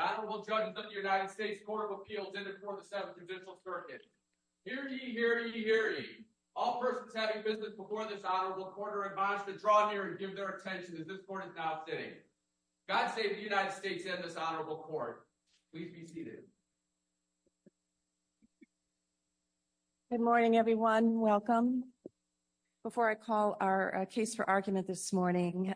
Good morning, everyone. Welcome. Before I call our case for argument this morning,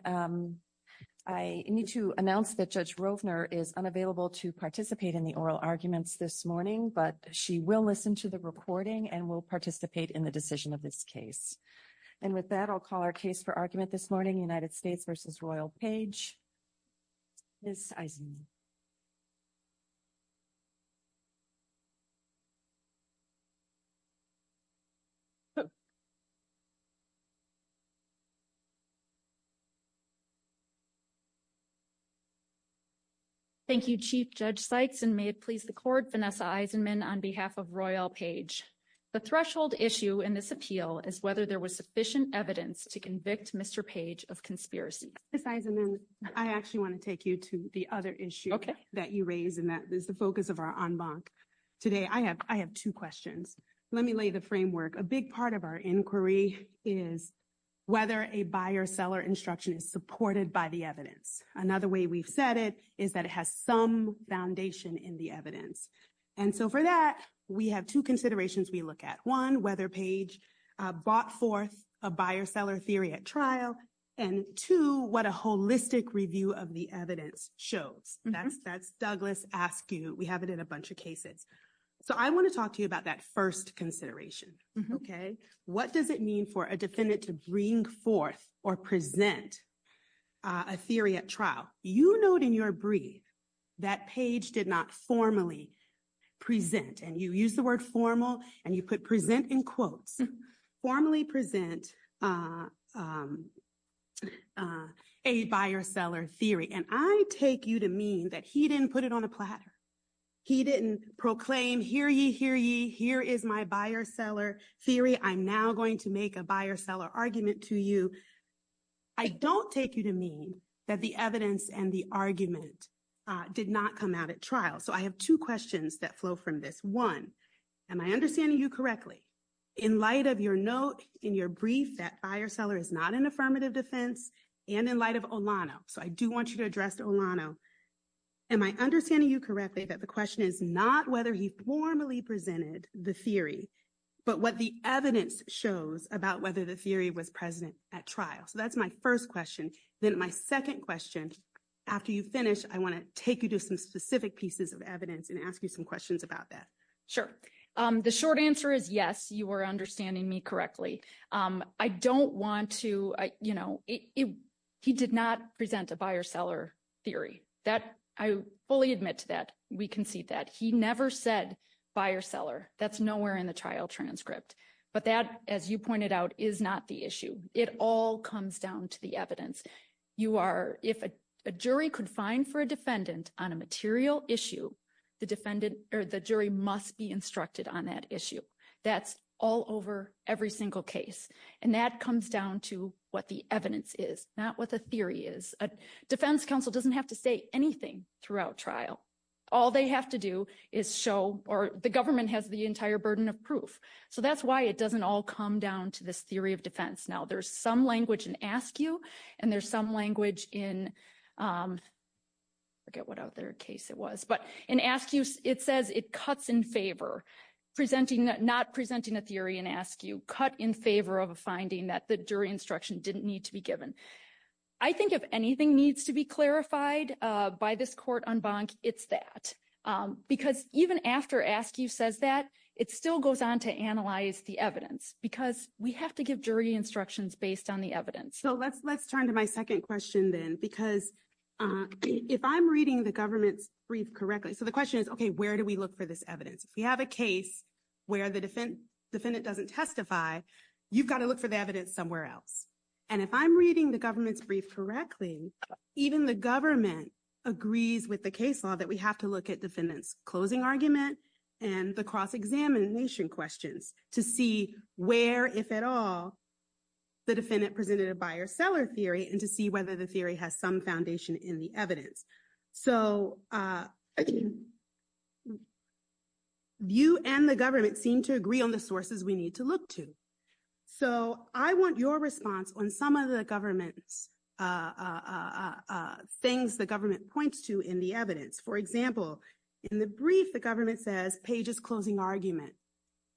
I need to announce that Judge Grosvenor is unavailable to participate in the oral arguments this morning, but she will listen to the recording and will participate in the decision of this case. And with that, I'll call our case for argument this morning United States versus Royal page. Thank you, Chief Judge sites and may it please the court Vanessa Eisenman on behalf of Royal page. The threshold issue in this appeal is whether there was sufficient evidence to convict Mr. page of conspiracy. I actually want to take you to the other issue that you raised and that is the focus of our on box today. I have I have 2 questions. Let me lay the framework a big part of our inquiry is. Whether a buyer seller instruction is supported by the evidence. Another way we've said it is that it has some foundation in the evidence. And so, for that, we have 2 considerations. We look at 1, whether page bought forth a buyer seller theory at trial. And to what a holistic review of the evidence shows Douglas ask you, we have it in a bunch of cases. So, I want to talk to you about that 1st consideration. Okay. What does it mean for a defendant to bring forth or present? A theory at trial, you know, in your brief. That page did not formally present and you use the word formal and you put present in quotes formally present. A buyer seller theory, and I take you to mean that he didn't put it on a platter. He didn't proclaim here you here. You here is my buyer seller theory. I'm now going to make a buyer seller argument to you. I don't take you to mean that the evidence and the argument. Did not come out at trial. So I have 2 questions that flow from this 1. am I understanding you correctly? In light of your notes in your brief, that buyer seller is not an affirmative defense and in light of Alana. So I do want you to address Alana. Am I understanding you correctly that the question is not whether he formally presented the theory. But what the evidence shows about whether the theory was present at trial. So that's my 1st question. Then my 2nd question after you finish, I want to take you to some specific pieces of evidence and ask you some questions about that. Sure. The short answer is yes, you are understanding me correctly. I don't want to, you know, he did not present the buyer seller theory. I fully admit to that. We can see that he never said buyer seller. That's nowhere in the trial transcript. But that, as you pointed out is not the issue. It all comes down to the evidence. You are, if a jury could find for a defendant on a material issue, the defendant or the jury must be instructed on that issue. That's all over every single case. And that comes down to what the evidence is not what the theory is. A defense counsel doesn't have to say anything throughout trial. All they have to do is show or the government has the entire burden of proof. So that's why it doesn't all come down to the theory of defense. Now, there's some language and ask you and there's some language in. Forget what other case it was, but and ask you, it says it cuts in favor presenting that not presenting a theory and ask you cut in favor of a finding that the jury instruction didn't need to be given. I think if anything needs to be clarified by this court on bond, it's that because even after ask you says that it still goes on to analyze the evidence because we have to give jury instructions based on the evidence. So, let's let's turn to my 2nd question then, because if I'm reading the government read correctly, so the question is, okay, where do we look for this evidence? We have a case where the defendant doesn't testify. You've got to look for the evidence somewhere else. And if I'm reading the government's brief correctly, even the government agrees with the case law that we have to look at defendant's closing argument and the cross examination questions to see where if at all. The defendant presented a buyer seller theory and to see whether the theory has some foundation in the evidence. So, you and the government seem to agree on the sources we need to look to. So, I want your response on some of the government things the government points to in the evidence. For example, in the brief, the government says pages, closing argument.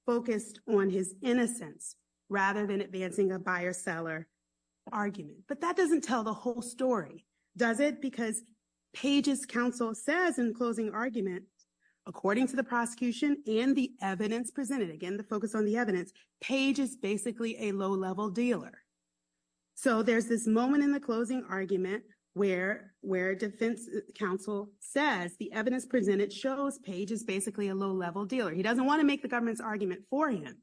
Focused on his innocence rather than advancing a buyer seller argument, but that doesn't tell the whole story. Does it? Because. Pages counsel says, and closing argument. According to the prosecution and the evidence presented again, the focus on the evidence page is basically a low level dealer. So, there's this moment in the closing argument where where defense counsel says the evidence presented shows page is basically a low level dealer. He doesn't want to make the government's argument for him.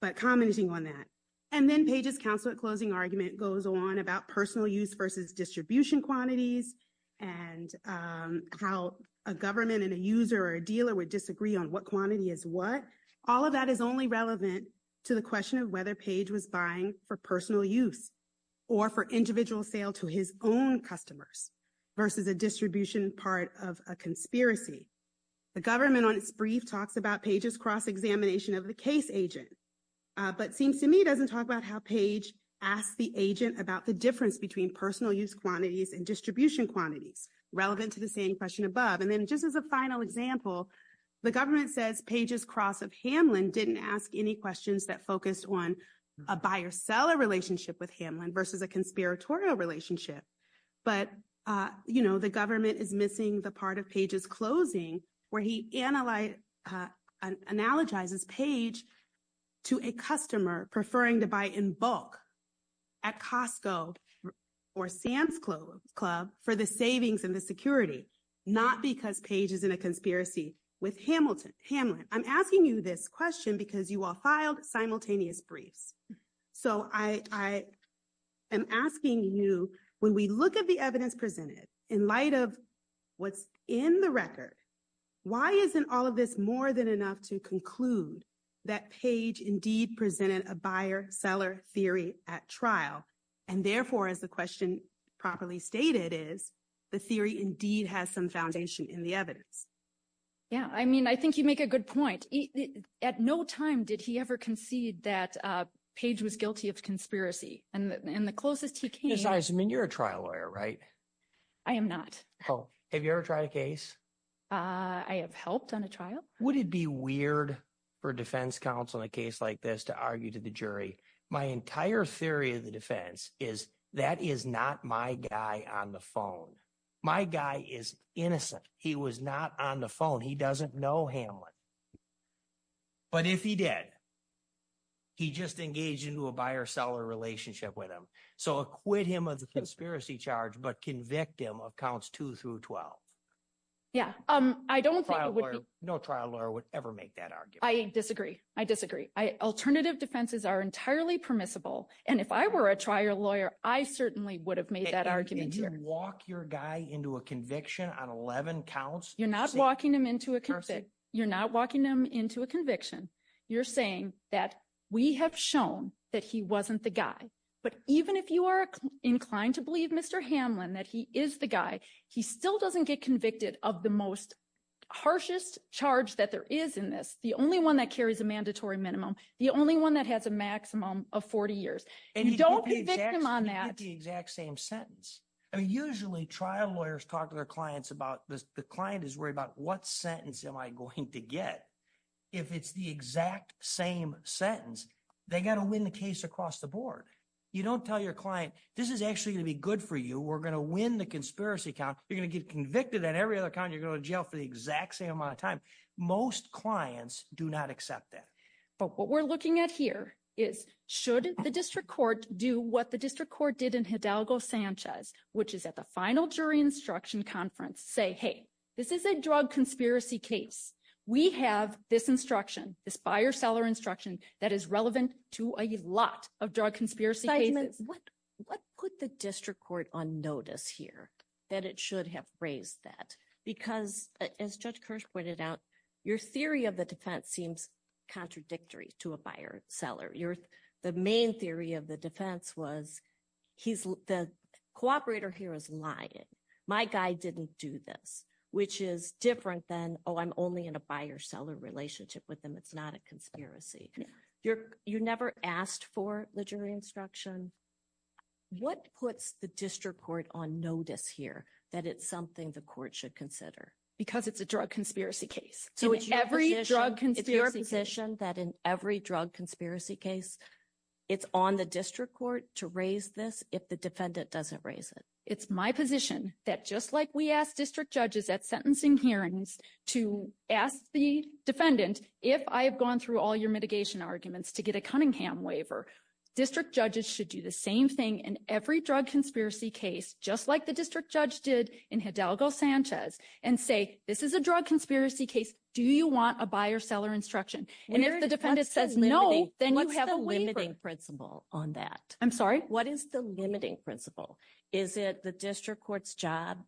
But commenting on that, and then pages, counseling, closing argument goes on about personal use versus distribution quantities and how a government and a user or a dealer would disagree on what quantity is what all of that is only relevant. To the question of whether page was buying for personal use. Or for individual sale to his own customers. Versus a distribution part of a conspiracy. The government on brief talks about pages cross examination of the case agent. But seems to me doesn't talk about how page ask the agent about the difference between personal use quantities and distribution quantity relevant to the same question above. And then just as a final example, the government says pages cross of Hamlin didn't ask any questions that focused on a buyer seller relationship with him versus a conspiratorial relationship. But, you know, the government is missing the part of pages closing where he analyze analogizes page. To a customer preferring to buy in bulk. At Costco, or Sam's club club for the savings and the security, not because pages in a conspiracy with Hamilton. I'm asking you this question because you all filed simultaneous brief. So I am asking you when we look at the evidence presented in light of what's in the record. Why isn't all of this more than enough to conclude that page indeed presented a buyer seller theory at trial. And therefore, as the question properly stated, is the theory indeed has some foundation in the other. Yeah, I mean, I think you make a good point at no time. Did he ever concede that page was guilty of conspiracy and the closest you can. I mean, you're a trial lawyer, right? I am not. Have you ever tried a case? I have helped on a trial. Would it be weird for defense counsel a case like this to argue to the jury? My entire theory of the defense is that is not my guy on the phone. My guy is innocent. He was not on the phone. He doesn't know Hamlet. But if he did, he just engaged into a buyer seller relationship with him. So, quit him of the conspiracy charge, but can victim accounts to through 12. Yeah, I don't know trial lawyer would ever make that argument. I disagree. I disagree. I alternative defenses are entirely permissible. And if I were a trial lawyer, I certainly would have made that argument walk your guy into a conviction on 11 counts. You're not walking them into a you're not walking them into a conviction. You're saying that we have shown that he wasn't the guy. But even if you are inclined to believe Mr. Hamlin, that he is the guy, he still doesn't get convicted of the most harshest charge that there is in this. The only one that carries a mandatory minimum, the only one that has a maximum of 40 years and don't be victim on that. The exact same sentence are usually trial lawyers talk to their clients about the client is worried about what sentence am I going to get? If it's the exact same sentence, they got to win the case across the board. You don't tell your client. This is actually to be good for you. We're going to win the conspiracy. You're going to get convicted that every other time you go to jail for the exact same amount of time. Most clients do not accept that. But what we're looking at here is, should the district court do what the district court did in Hidalgo Sanchez, which is at the final jury instruction conference say, hey, this is a drug conspiracy case. We have this instruction, this buyer seller instruction that is relevant to a lot of drug conspiracy cases. What put the district court on notice here that it should have raised that? Because as Judge Kirsch pointed out, your theory of the defense seems contradictory to a buyer seller. The main theory of the defense was the cooperator here is lying. My guy didn't do this, which is different than, oh, I'm only in a buyer seller relationship with them. It's not a conspiracy. You never asked for the jury instruction. What puts the district court on notice here that it's something the court should consider? Because it's a drug conspiracy case. It's your position that in every drug conspiracy case, it's on the district court to raise this if the defendant doesn't raise it. It's my position that just like we asked district judges at sentencing hearings to ask the defendant, if I have gone through all your mitigation arguments to get a Cunningham waiver, district judges should do the same thing in every drug conspiracy case, just like the district judge did in Hidalgo Sanchez and say, this is a drug conspiracy case. Do you want a buyer seller instruction? And if the defendant says no, then you have a limiting principle on that. I'm sorry. What is the limiting principle? Is it the district court's job?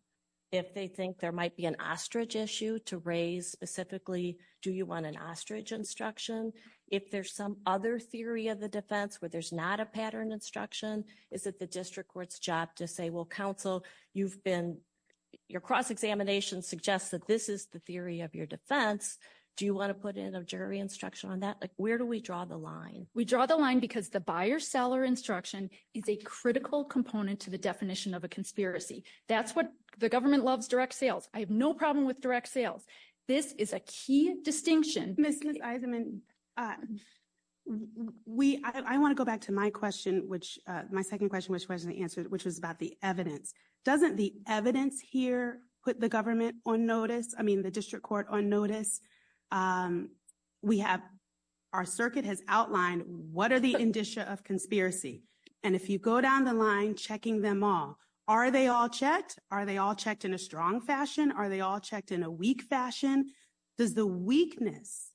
If they think there might be an ostrich issue to raise specifically, do you want an ostrich instruction? If there's some other theory of the defense where there's not a pattern instruction, is it the district court's job to say, well, counsel, your cross examination suggests that this is the theory of your defense. Do you want to put in a jury instruction on that? Where do we draw the line? We draw the line because the buyer seller instruction is a critical component to the definition of a conspiracy. That's what the government loves direct sales. I have no problem with direct sales. This is a key distinction. We I want to go back to my question, which my second question, which was the answer, which was about the evidence. Doesn't the evidence here put the government on notice? I mean, the district court on notice. We have our circuit has outlined what are the indicia of conspiracy? And if you go down the line, checking them all, are they all checked? Are they all checked in a strong fashion? Are they all checked in a weak fashion? Does the weakness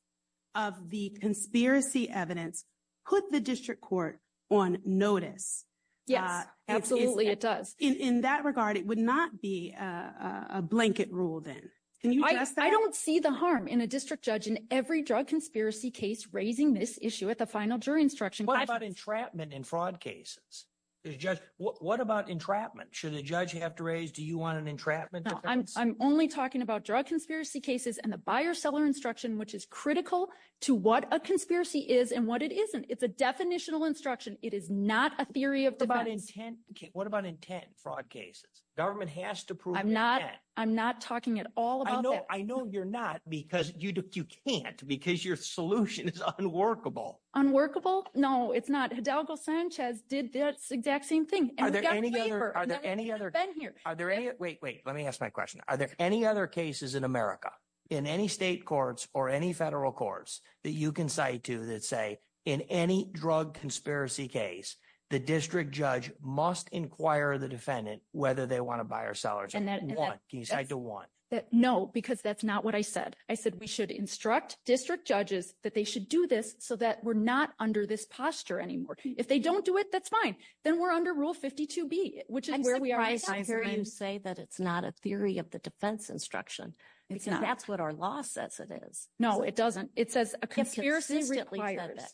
of the conspiracy evidence put the district court on notice? Yeah, absolutely. It does in that regard. It would not be a blanket rule. Then I don't see the harm in a district judge in every drug conspiracy case, raising this issue at the final jury instruction. What about entrapment in fraud cases? What about entrapment? Should a judge have to raise? Do you want an entrapment? I'm only talking about drug conspiracy cases and the buyer seller instruction, which is critical to what a conspiracy is and what it isn't. It's a definitional instruction. It is not a theory of intent. What about intent fraud cases? Government has to prove I'm not I'm not talking at all. I know you're not because you can't because your solution is unworkable. No, it's not. Hidalgo Sanchez did this exact same thing. Are there any other? Are there any? Wait, wait, let me ask my question. Are there any other cases in America in any state courts or any federal courts that you can cite to that say in any drug conspiracy case? The district judge must inquire the defendant whether they want to buy or sell it. I don't want that. No, because that's not what I said. I said we should instruct district judges that they should do this so that we're not under this posture anymore. If they don't do it, that's fine. Then we're under Rule 52B, which is where we are. I'm going to say that it's not a theory of the defense instruction because that's what our law says it is. No, it doesn't. It says a conspiracy.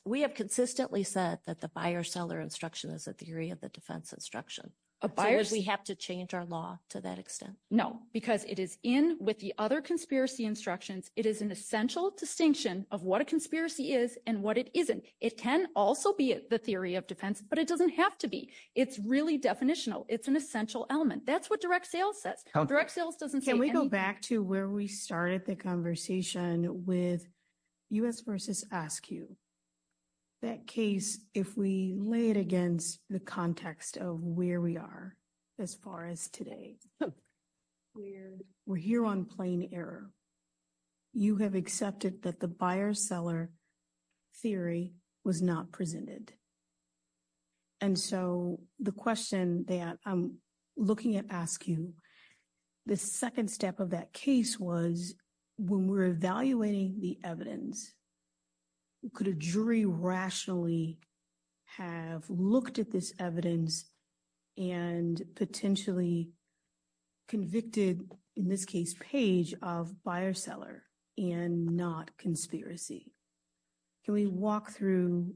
We have consistently said that the buyer seller instruction is a theory of the defense instruction. Because we have to change our law to that extent. No, because it is in with the other conspiracy instructions. It is an essential distinction of what a conspiracy is and what it isn't. It can also be the theory of defense, but it doesn't have to be. It's really definitional. It's an essential element. That's what direct sales says. Can we go back to where we started the conversation with U.S. versus ASCQ? That case, if we lay it against the context of where we are as far as today, we're here on plain error. You have accepted that the buyer seller theory was not presented. And so the question that I'm looking at ASCQ, the second step of that case was when we're evaluating the evidence, could a jury rationally have looked at this evidence and potentially convicted, in this case, page of buyer seller and not conspiracy? Can we walk through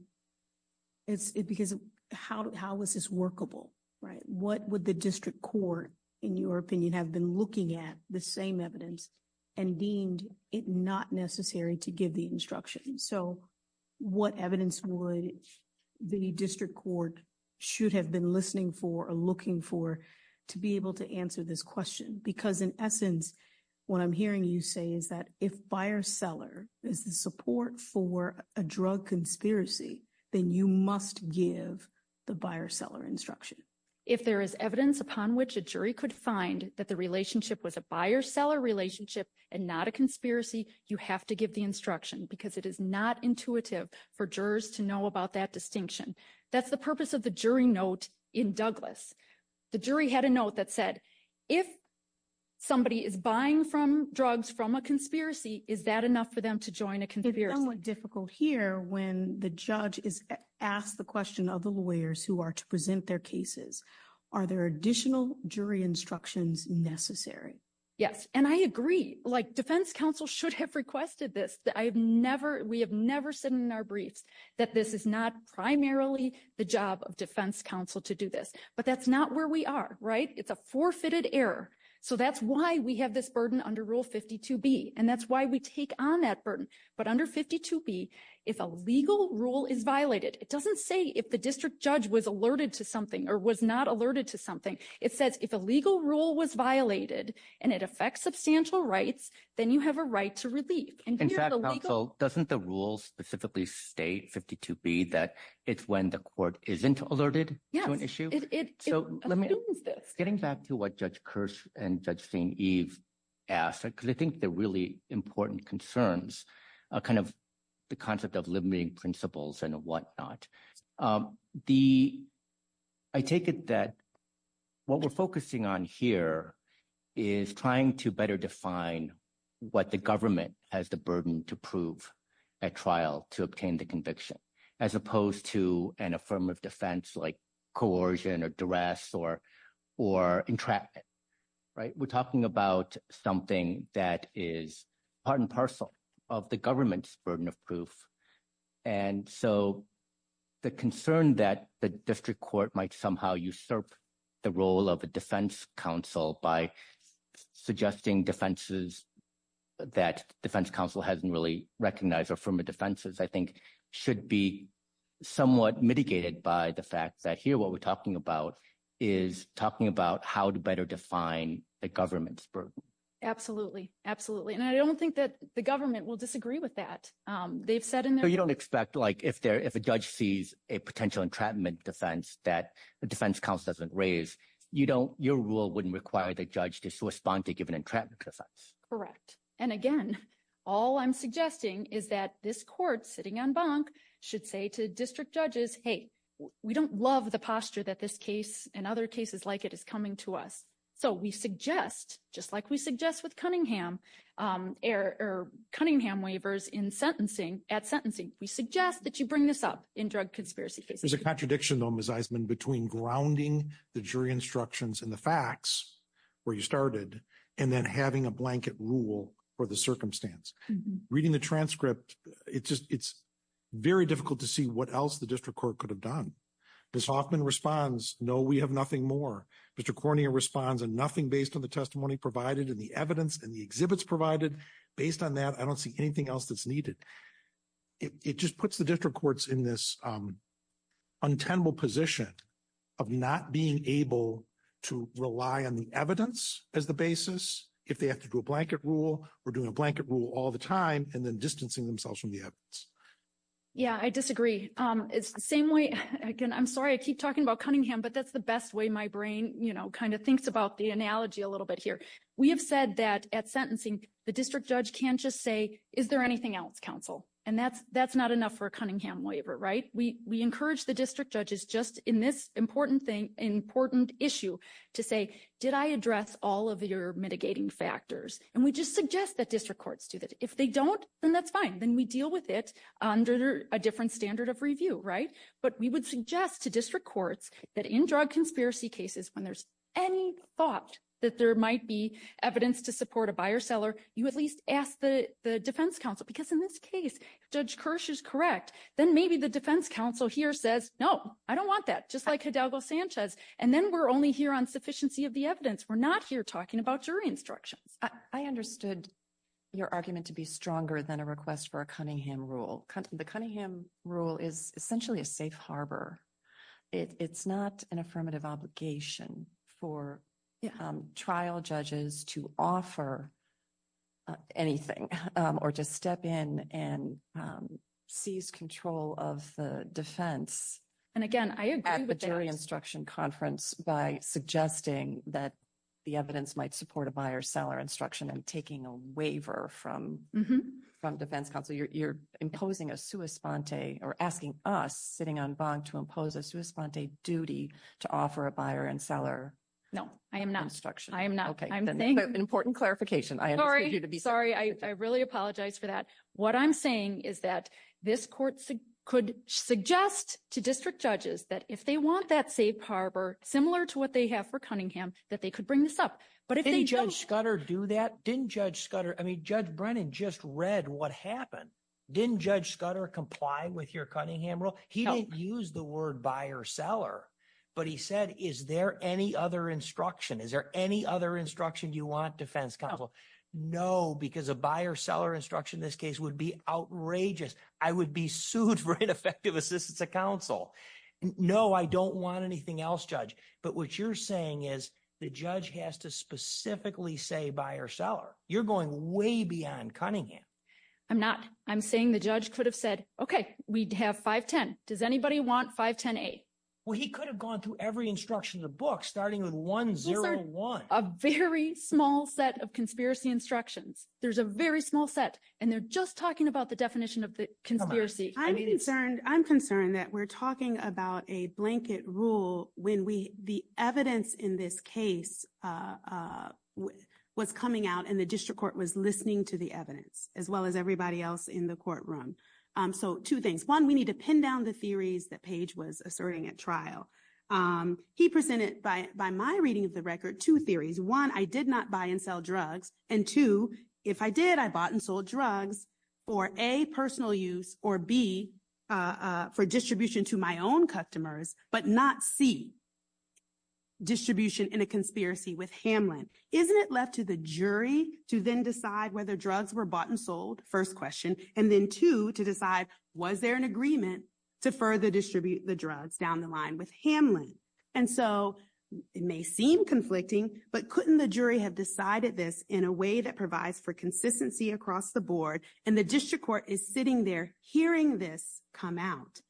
it? Because how is this workable? What would the district court, in your opinion, have been looking at the same evidence and deemed it not necessary to give the instruction? So what evidence would the district court should have been listening for or looking for to be able to answer this question? Because in essence, what I'm hearing you say is that if buyer seller is a support for a drug conspiracy, then you must give the buyer seller instruction. If there is evidence upon which a jury could find that the relationship was a buyer seller relationship and not a conspiracy, you have to give the instruction because it is not intuitive for jurors to know about that distinction. That's the purpose of the jury note in Douglas. The jury had a note that said, if somebody is buying drugs from a conspiracy, is that enough for them to join a conspiracy? It's somewhat difficult here when the judge is asked the question of the lawyers who are to present their cases. Are there additional jury instructions necessary? Yes, and I agree. Like, defense counsel should have requested this. We have never said in our brief that this is not primarily the job of defense counsel to do this, but that's not where we are. It's a forfeited error. So that's why we have this burden under Rule 52B, and that's why we take on that burden. But under 52B, if a legal rule is violated, it doesn't say if the district judge was alerted to something or was not alerted to something. It says if a legal rule was violated and it affects substantial rights, then you have a right to release. In fact, counsel, doesn't the rule specifically state, 52B, that it's when the court isn't alerted to an issue? Yes, it assumes this. Getting back to what Judge Kearse and Judge St. Eve asked, because I think they're really important concerns, kind of the concept of limiting principles and whatnot. I take it that what we're focusing on here is trying to better define what the government has the burden to prove at trial to obtain the conviction as opposed to an affirmative defense like coercion or duress or entrapment. We're talking about something that is part and parcel of the government's burden of proof. And so the concern that the district court might somehow usurp the role of a defense counsel by suggesting defenses that defense counsel hasn't really recognized or affirmative defenses, I think, should be somewhat mitigated by the fact that here what we're talking about is talking about how to better define the government's burden. Absolutely, absolutely. And I don't think that the government will disagree with that. So you don't expect like if a judge sees a potential entrapment defense that the defense counsel doesn't raise, your rule wouldn't require the judge to respond to a given entrapment defense? Correct. And again, all I'm suggesting is that this court sitting on bunk should say to district judges, hey, we don't love the posture that this case and other cases like it is coming to us. So we suggest, just like we suggest with Cunningham or Cunningham waivers in sentencing, at sentencing, we suggest that you bring this up in drug conspiracy cases. There's a contradiction, though, Ms. Eisenman, between grounding the jury instructions in the facts where you started and then having a blanket rule for the circumstance. Reading the transcript, it's very difficult to see what else the district court could have done. Ms. Hoffman responds, no, we have nothing more. Mr. Cornier responds, and nothing based on the testimony provided and the evidence and the exhibits provided. Based on that, I don't see anything else that's needed. It just puts the district courts in this untenable position of not being able to rely on the evidence as the basis. If they have to do a blanket rule, we're doing a blanket rule all the time and then distancing themselves from the evidence. Yeah, I disagree. It's the same way. I'm sorry I keep talking about Cunningham, but that's the best way my brain kind of thinks about the analogy a little bit here. We have said that at sentencing, the district judge can't just say, is there anything else, counsel? And that's not enough for a Cunningham waiver, right? We encourage the district judges just in this important issue to say, did I address all of your mitigating factors? And we just suggest that district courts do that. If they don't, then that's fine. Then we deal with it under a different standard of review, right? But we would suggest to district courts that in drug conspiracy cases, when there's any thought that there might be evidence to support a buyer seller, you at least ask the defense counsel. Because in this case, Judge Kirsch is correct. Then maybe the defense counsel here says, no, I don't want that. Just like Hidalgo Sanchez. And then we're only here on sufficiency of the evidence. We're not here talking about jury instruction. I understood your argument to be stronger than a request for a Cunningham rule. The Cunningham rule is essentially a safe harbor. It's not an affirmative obligation for trial judges to offer anything or to step in and seize control of the defense. And again, I agree with that. At the jury instruction conference by suggesting that the evidence might support a buyer seller instruction and taking a waiver from the defense counsel. You're imposing a sua sponte or asking us sitting on bond to impose a sua sponte duty to offer a buyer and seller instruction. No, I am not. I am not. I'm saying. Important clarification. Sorry. I really apologize for that. What I'm saying is that this court could suggest to district judges that if they want that safe harbor, similar to what they have for Cunningham, that they could bring this up. But didn't Judge Scudder do that? Didn't Judge Scudder? I mean, Judge Brennan just read what happened. Didn't Judge Scudder comply with your Cunningham rule? He didn't use the word buyer seller, but he said, is there any other instruction? Is there any other instruction you want defense counsel? No, because a buyer seller instruction in this case would be outrageous. I would be sued for ineffective assistance to counsel. No, I don't want anything else, Judge. But what you're saying is the judge has to specifically say buyer seller. You're going way beyond Cunningham. I'm not. I'm saying the judge could have said, OK, we'd have 510. Does anybody want 510-8? Well, he could have gone through every instruction in the book, starting with 101. There's a very small set of conspiracy instructions. There's a very small set, and they're just talking about the definition of the conspiracy. I'm concerned that we're talking about a blanket rule when the evidence in this case was coming out and the district court was listening to the evidence, as well as everybody else in the courtroom. So two things. One, we need to pin down the theories that Page was asserting at trial. He presented, by my reading of the record, two theories. One, I did not buy and sell drugs. And, two, if I did, I bought and sold drugs for, A, personal use, or, B, for distribution to my own customers, but not, C, distribution in a conspiracy with Hamlin. Isn't it left to the jury to then decide whether drugs were bought and sold, first question, and then, two, to decide was there an agreement to further distribute the drugs down the line with Hamlin? And so it may seem conflicting, but couldn't the jury have decided this in a way that provides for consistency across the board? And the district court is sitting there hearing this come out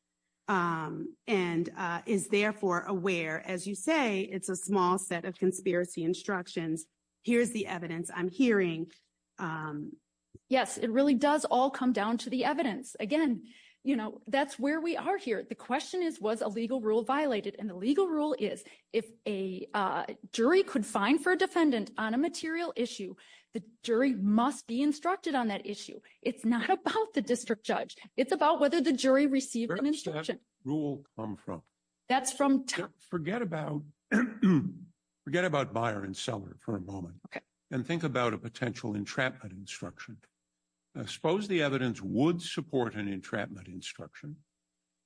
and is, therefore, aware. As you say, it's a small set of conspiracy instructions. Here's the evidence I'm hearing. Yes, it really does all come down to the evidence. Again, you know, that's where we are here. The question is, was a legal rule violated? And the legal rule is, if a jury could find for a defendant on a material issue, the jury must be instructed on that issue. It's not about the district judge. It's about whether the jury received an instruction. Where does that rule come from? That's from… Forget about buyer and seller for a moment. Okay. And think about a potential entrapment instruction. Suppose the evidence would support an entrapment instruction,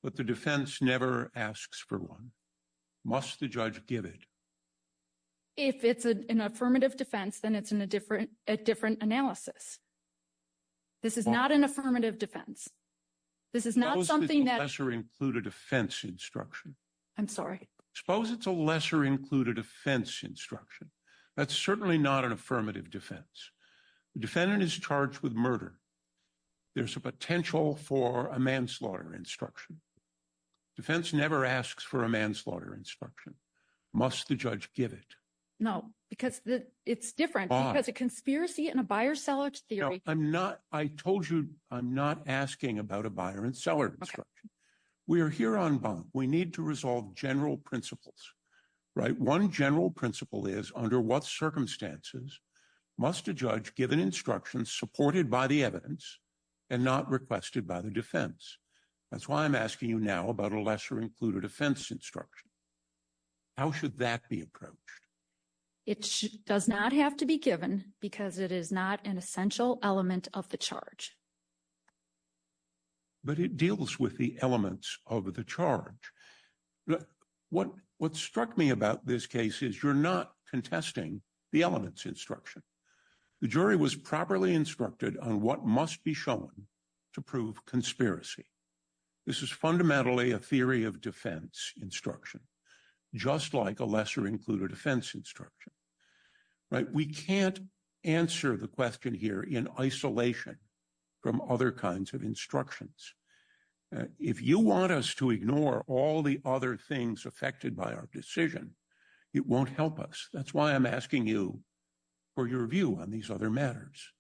but the defense never asks for one. Must the judge give it? If it's an affirmative defense, then it's a different analysis. This is not an affirmative defense. This is not something that… Suppose it's a lesser-included offense instruction. I'm sorry? Suppose it's a lesser-included offense instruction. That's certainly not an affirmative defense. The defendant is charged with murder. There's a potential for a manslaughter instruction. Defense never asks for a manslaughter instruction. Must the judge give it? No, because it's different because a conspiracy and a buyer-seller theory… I'm not… I told you I'm not asking about a buyer and seller instruction. We are here on bond. We need to resolve general principles, right? One general principle is under what circumstances must a judge give an instruction supported by the evidence and not requested by the defense? That's why I'm asking you now about a lesser-included offense instruction. How should that be approached? It does not have to be given because it is not an essential element of the charge. But it deals with the elements of the charge. What struck me about this case is you're not contesting the elements instruction. The jury was properly instructed on what must be shown to prove conspiracy. This is fundamentally a theory of defense instruction, just like a lesser-included offense instruction. We can't answer the question here in isolation from other kinds of instructions. If you want us to ignore all the other things affected by our decision, it won't help us. That's why I'm asking you for your view on these other matters.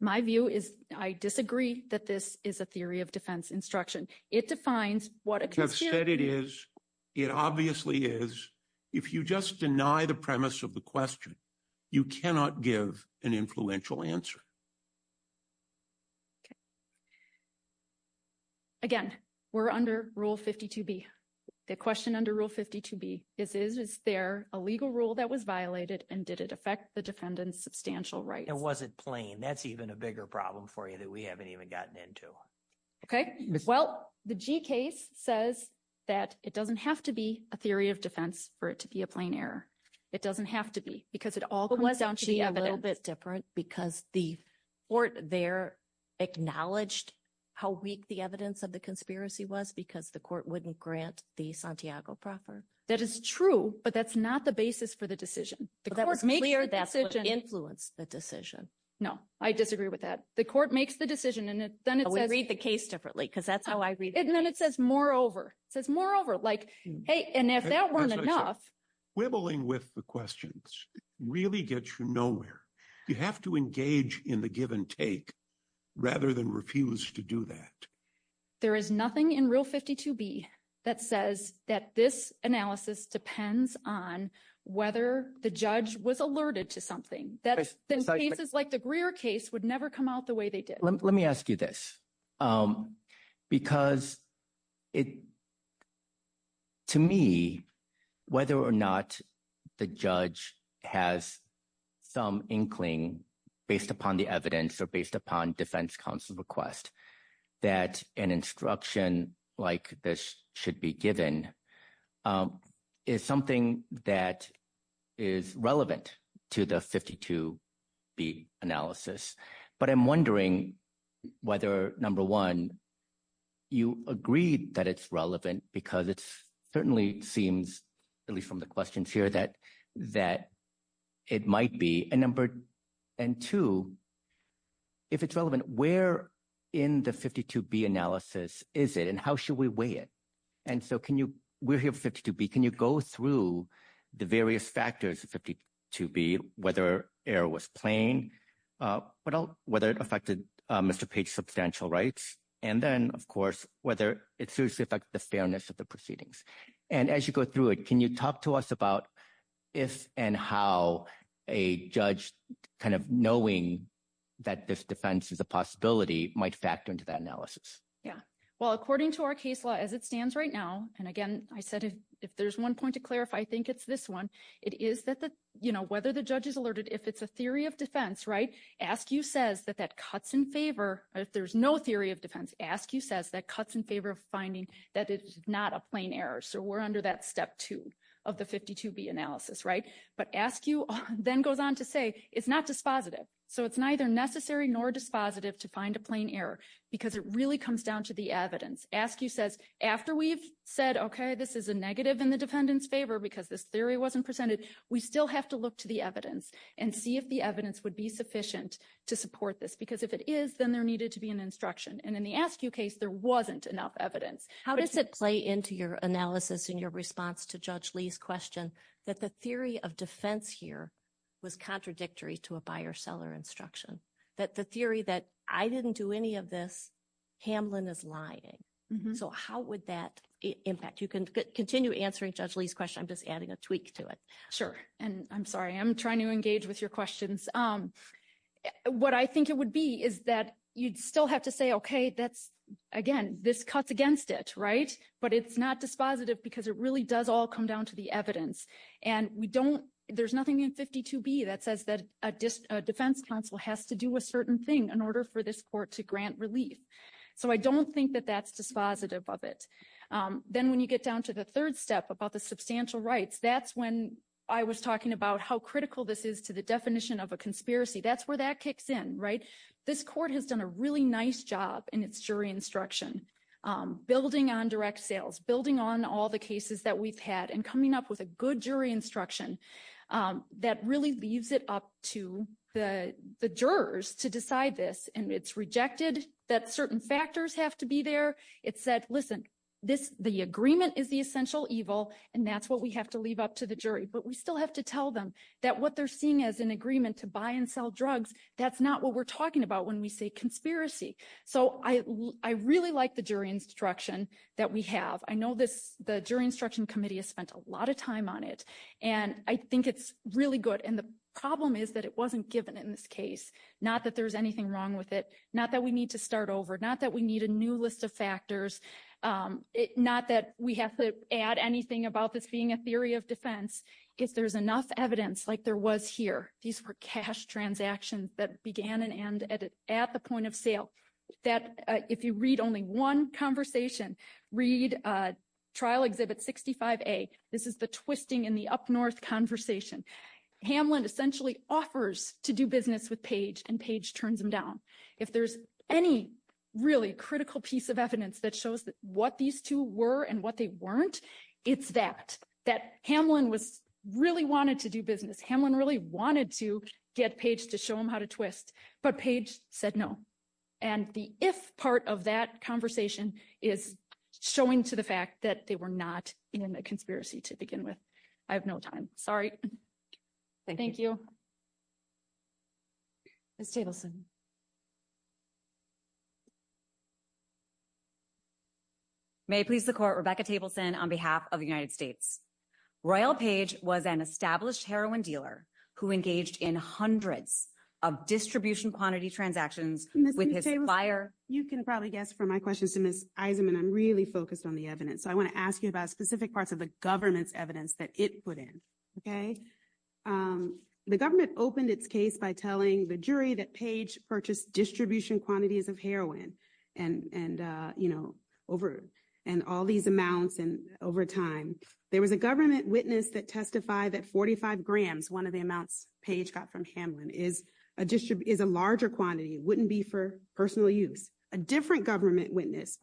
My view is I disagree that this is a theory of defense instruction. It defines what a conspiracy… You have said it is. It obviously is. If you just deny the premise of the question, you cannot give an influential answer. Okay. Again, we're under Rule 52B, the question under Rule 52B. Is this fair, a legal rule that was violated, and did it affect the defendant's substantial rights? It wasn't plain. That's even a bigger problem for you that we haven't even gotten into. Okay. Well, the G case says that it doesn't have to be a theory of defense for it to be a plain error. It doesn't have to be because it all comes down to the evidence. It's a little bit different because the court there acknowledged how weak the evidence of the conspiracy was because the court wouldn't grant the Santiago proffer. That is true, but that's not the basis for the decision. The court makes the decision. That would influence the decision. No, I disagree with that. The court makes the decision, and then it says… We read the case differently because that's how I read it. And then it says, moreover. It says, moreover. Like, hey, and if that weren't enough… Wibbling with the questions really gets you nowhere. You have to engage in the give and take rather than refuse to do that. There is nothing in Rule 52B that says that this analysis depends on whether the judge was alerted to something. Then cases like the Greer case would never come out the way they did. Let me ask you this because to me, whether or not the judge has some inkling based upon the evidence or based upon defense counsel request that an instruction like this should be given is something that is relevant to the 52B analysis. But I'm wondering whether, number one, you agreed that it's relevant because it certainly seems, at least from the questions here, that it might be. And number two, if it's relevant, where in the 52B analysis is it, and how should we weigh it? And so can you – we're here for 52B. Can you go through the various factors of 52B, whether error was plain, whether it affected Mr. Page's substantial rights, and then, of course, whether it seriously affected the fairness of the proceedings? And as you go through it, can you talk to us about if and how a judge kind of knowing that this defense is a possibility might factor into that analysis? Yeah. Well, according to our case law as it stands right now – and again, I said if there's one point to clarify, I think it's this one. It is that whether the judge is alerted, if it's a theory of defense, right, ASCII says that that cuts in favor – if there's no theory of defense, ASCII says that cuts in favor of finding that it's not a plain error. So we're under that step two of the 52B analysis, right? But ASCII then goes on to say it's not dispositive. So it's neither necessary nor dispositive to find a plain error because it really comes down to the evidence. ASCII says after we've said, okay, this is a negative in the defendant's favor because this theory wasn't presented, we still have to look to the evidence and see if the evidence would be sufficient to support this because if it is, then there needed to be an instruction. And in the ASCII case, there wasn't enough evidence. How does it play into your analysis and your response to Judge Lee's question that the theory of defense here was contradictory to a buyer-seller instruction, that the theory that I didn't do any of this, Hamlin is lying? So how would that impact? You can continue answering Judge Lee's question. I'm just adding a tweak to it. Sure. And I'm sorry. I'm trying to engage with your questions. What I think it would be is that you'd still have to say, okay, that's, again, this cuts against it, right? But it's not dispositive because it really does all come down to the evidence. And we don't – there's nothing in 52B that says that a defense counsel has to do a certain thing in order for this court to grant relief. So I don't think that that's dispositive of it. Then when you get down to the third step about the substantial rights, that's when I was talking about how critical this is to the definition of a conspiracy. That's where that kicks in, right? This court has done a really nice job in its jury instruction, building on direct sales, building on all the cases that we've had, and coming up with a good jury instruction that really leaves it up to the jurors to decide this. And it's rejected that certain factors have to be there. It said, listen, the agreement is the essential evil, and that's what we have to leave up to the jury. But we still have to tell them that what they're seeing as an agreement to buy and sell drugs, that's not what we're talking about when we say conspiracy. So I really like the jury instruction that we have. I know the jury instruction committee has spent a lot of time on it, and I think it's really good. And the problem is that it wasn't given in this case, not that there's anything wrong with it, not that we need to start over, not that we need a new list of factors, not that we have to add anything about this being a theory of defense. If there's enough evidence like there was here, these were cash transactions that began and ended at the point of sale, that if you read only one conversation, read trial exhibit 65A, this is the twisting in the up-north conversation. Hamlin essentially offers to do business with Page, and Page turns him down. If there's any really critical piece of evidence that shows what these two were and what they weren't, it's that. That Hamlin really wanted to do business. Hamlin really wanted to get Page to show him how to twist, but Page said no. And the if part of that conversation is showing to the fact that they were not in a conspiracy to begin with. I have no time. Sorry. Thank you. Ms. Tableson. May I please the court, Rebecca Tableson on behalf of the United States. Royal Page was an established heroin dealer who engaged in hundreds of distribution quantity transactions with his buyer. You can probably guess from my questions to Ms. Eisenman, I'm really focused on the evidence. I want to ask you about specific parts of the government's evidence that it put in. The government opened its case by telling the jury that Page purchased distribution quantities of heroin and all these amounts over time. There was a government witness that testified that 45 grams, one of the amounts Page got from Hamlin, is a larger quantity. It wouldn't be for personal use. A different government witness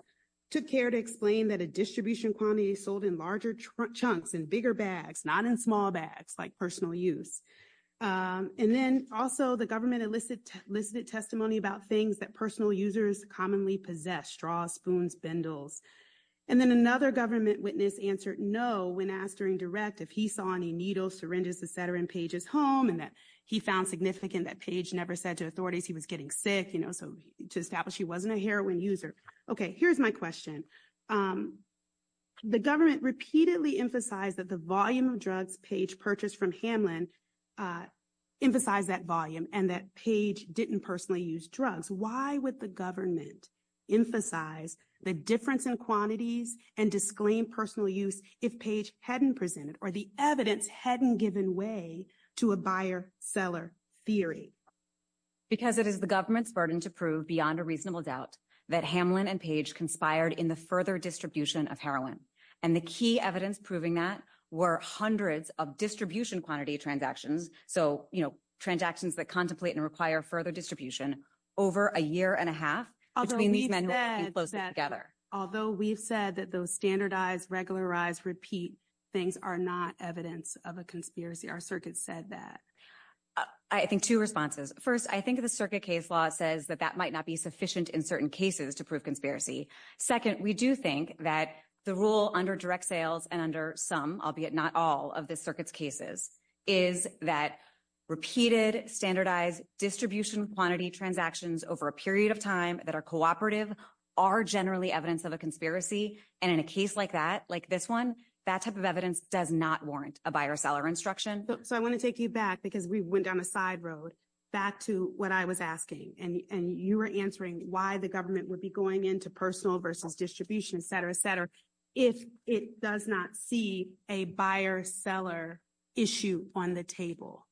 took care to explain that a distribution quantity sold in larger chunks in bigger bags, not in small bags, like personal use. And then also the government elicited testimony about things that personal users commonly possess, straws, spoons, spindles. And then another government witness answered no when asked during direct if he saw any needles, syringes, et cetera, in Page's home. And that he found significant that Page never said to authorities he was getting sick, you know, to establish he wasn't a heroin user. Okay, here's my question. The government repeatedly emphasized that the volume of drugs Page purchased from Hamlin emphasized that volume and that Page didn't personally use drugs. Why would the government emphasize the difference in quantities and disclaim personal use if Page hadn't presented or the evidence hadn't given way to a buyer-seller theory? Because it is the government's burden to prove beyond a reasonable doubt that Hamlin and Page conspired in the further distribution of heroin. And the key evidence proving that were hundreds of distribution quantity transactions. So, you know, transactions that contemplate and require further distribution over a year and a half. Although we've said that those standardized, regularized, repeat things are not evidence of a conspiracy. Our circuit said that. I think two responses. First, I think the circuit case law says that that might not be sufficient in certain cases to prove conspiracy. Second, we do think that the rule under direct sales and under some, albeit not all, of the circuit's cases is that repeated standardized distribution quantity transactions over a period of time that are cooperative are generally evidence of a conspiracy. And in a case like that, like this one, that type of evidence does not warrant a buyer-seller instruction. So I want to take you back because we went down a side road back to what I was asking. And you were answering why the government would be going into personal versus distribution, et cetera, et cetera, if it does not see a buyer-seller issue on the table.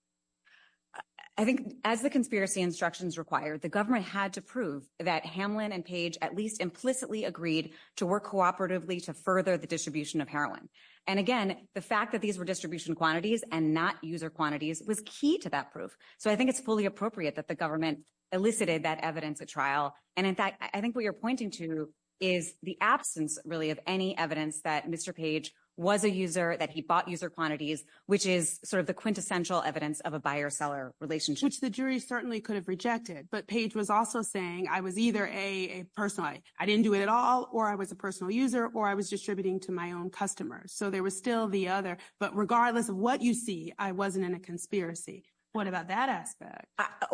I think as the conspiracy instructions required, the government had to prove that Hamlin and Page at least implicitly agreed to work cooperatively to further the distribution of heroin. And, again, the fact that these were distribution quantities and not user quantities was key to that proof. So I think it's fully appropriate that the government elicited that evidence at trial. And, in fact, I think what you're pointing to is the absence really of any evidence that Mr. Page was a user, that he bought user quantities, which is sort of the quintessential evidence of a buyer-seller relationship. Which the jury certainly could have rejected. But Page was also saying I was either a personality, I didn't do it at all, or I was a personal user, or I was distributing to my own customers. So they were still the other. But regardless of what you see, I wasn't in a conspiracy. What about that aspect?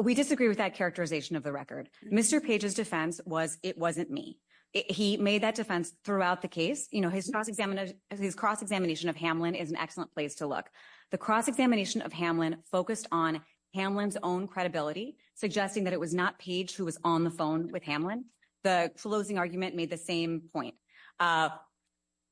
We disagree with that characterization of the record. Mr. Page's defense was it wasn't me. He made that defense throughout the case. You know, his cross-examination of Hamlin is an excellent place to look. The cross-examination of Hamlin focused on Hamlin's own credibility, suggesting that it was not Page who was on the phone with Hamlin. The closing argument made the same point.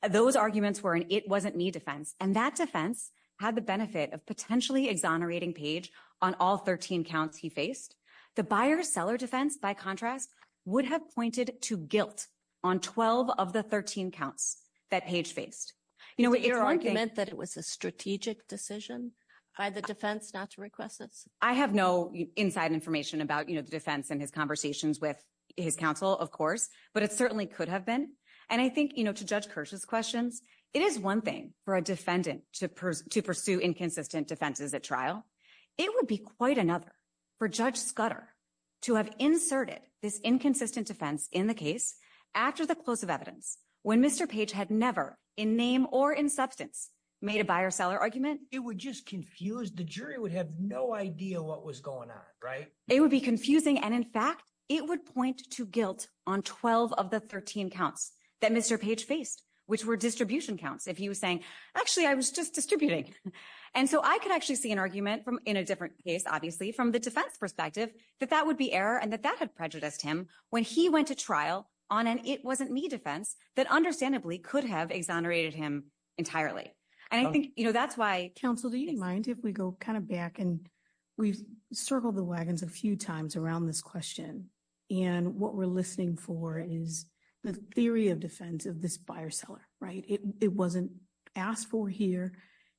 Those arguments were an it-wasn't-me defense. And that defense had the benefit of potentially exonerating Page on all 13 counts he faced. The buyer-seller defense, by contrast, would have pointed to guilt on 12 of the 13 counts that Page faced. Your argument that it was a strategic decision by the defense not to request it? I have no inside information about the defense and his conversations with his counsel, of course, but it certainly could have been. And I think, you know, to Judge Kirsch's question, it is one thing for a defendant to pursue inconsistent defenses at trial. It would be quite another for Judge Scudder to have inserted this inconsistent defense in the case after the close of evidence when Mr. Page had never, in name or in substance, made a buyer-seller argument. It would just confuse. The jury would have no idea what was going on, right? It would be confusing. And, in fact, it would point to guilt on 12 of the 13 counts that Mr. Page faced, which were distribution counts, if he was saying, actually, I was just distributing. And so I could actually see an argument in a different case, obviously, from the defense perspective, that that would be error and that that would prejudice him when he went to trial on an it-wasn't-me defense that understandably could have exonerated him entirely. And I think, you know, that's why counsel, do you mind if we go kind of back and we've circled the wagons a few times around this question? And what we're listening for is the theory of defense of this buyer-seller, right? It wasn't asked for here,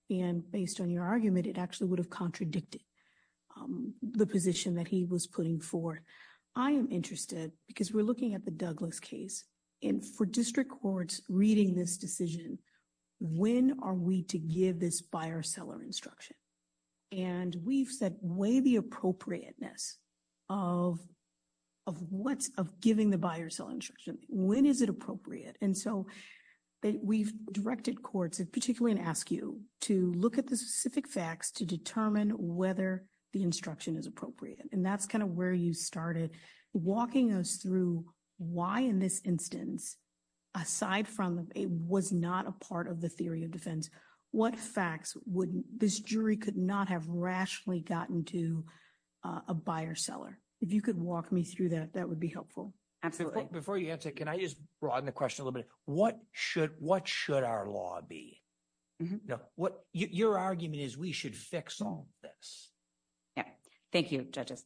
and based on your argument, it actually would have contradicted the position that he was putting forth. I am interested, because we're looking at the Douglas case, and for district courts reading this decision, when are we to give this buyer-seller instruction? And we've said, when is the appropriateness of giving the buyer-seller instruction? When is it appropriate? And so we've directed courts, and particularly I'm going to ask you, to look at the specific facts to determine whether the instruction is appropriate. And that's kind of where you started walking us through why in this instance, aside from it was not a part of the theory of defense, what facts would this jury could not have rationally gotten to a buyer-seller. If you could walk me through that, that would be helpful. Absolutely. Before you answer, can I just broaden the question a little bit? What should our law be? Your argument is we should fix all this. Thank you, judges.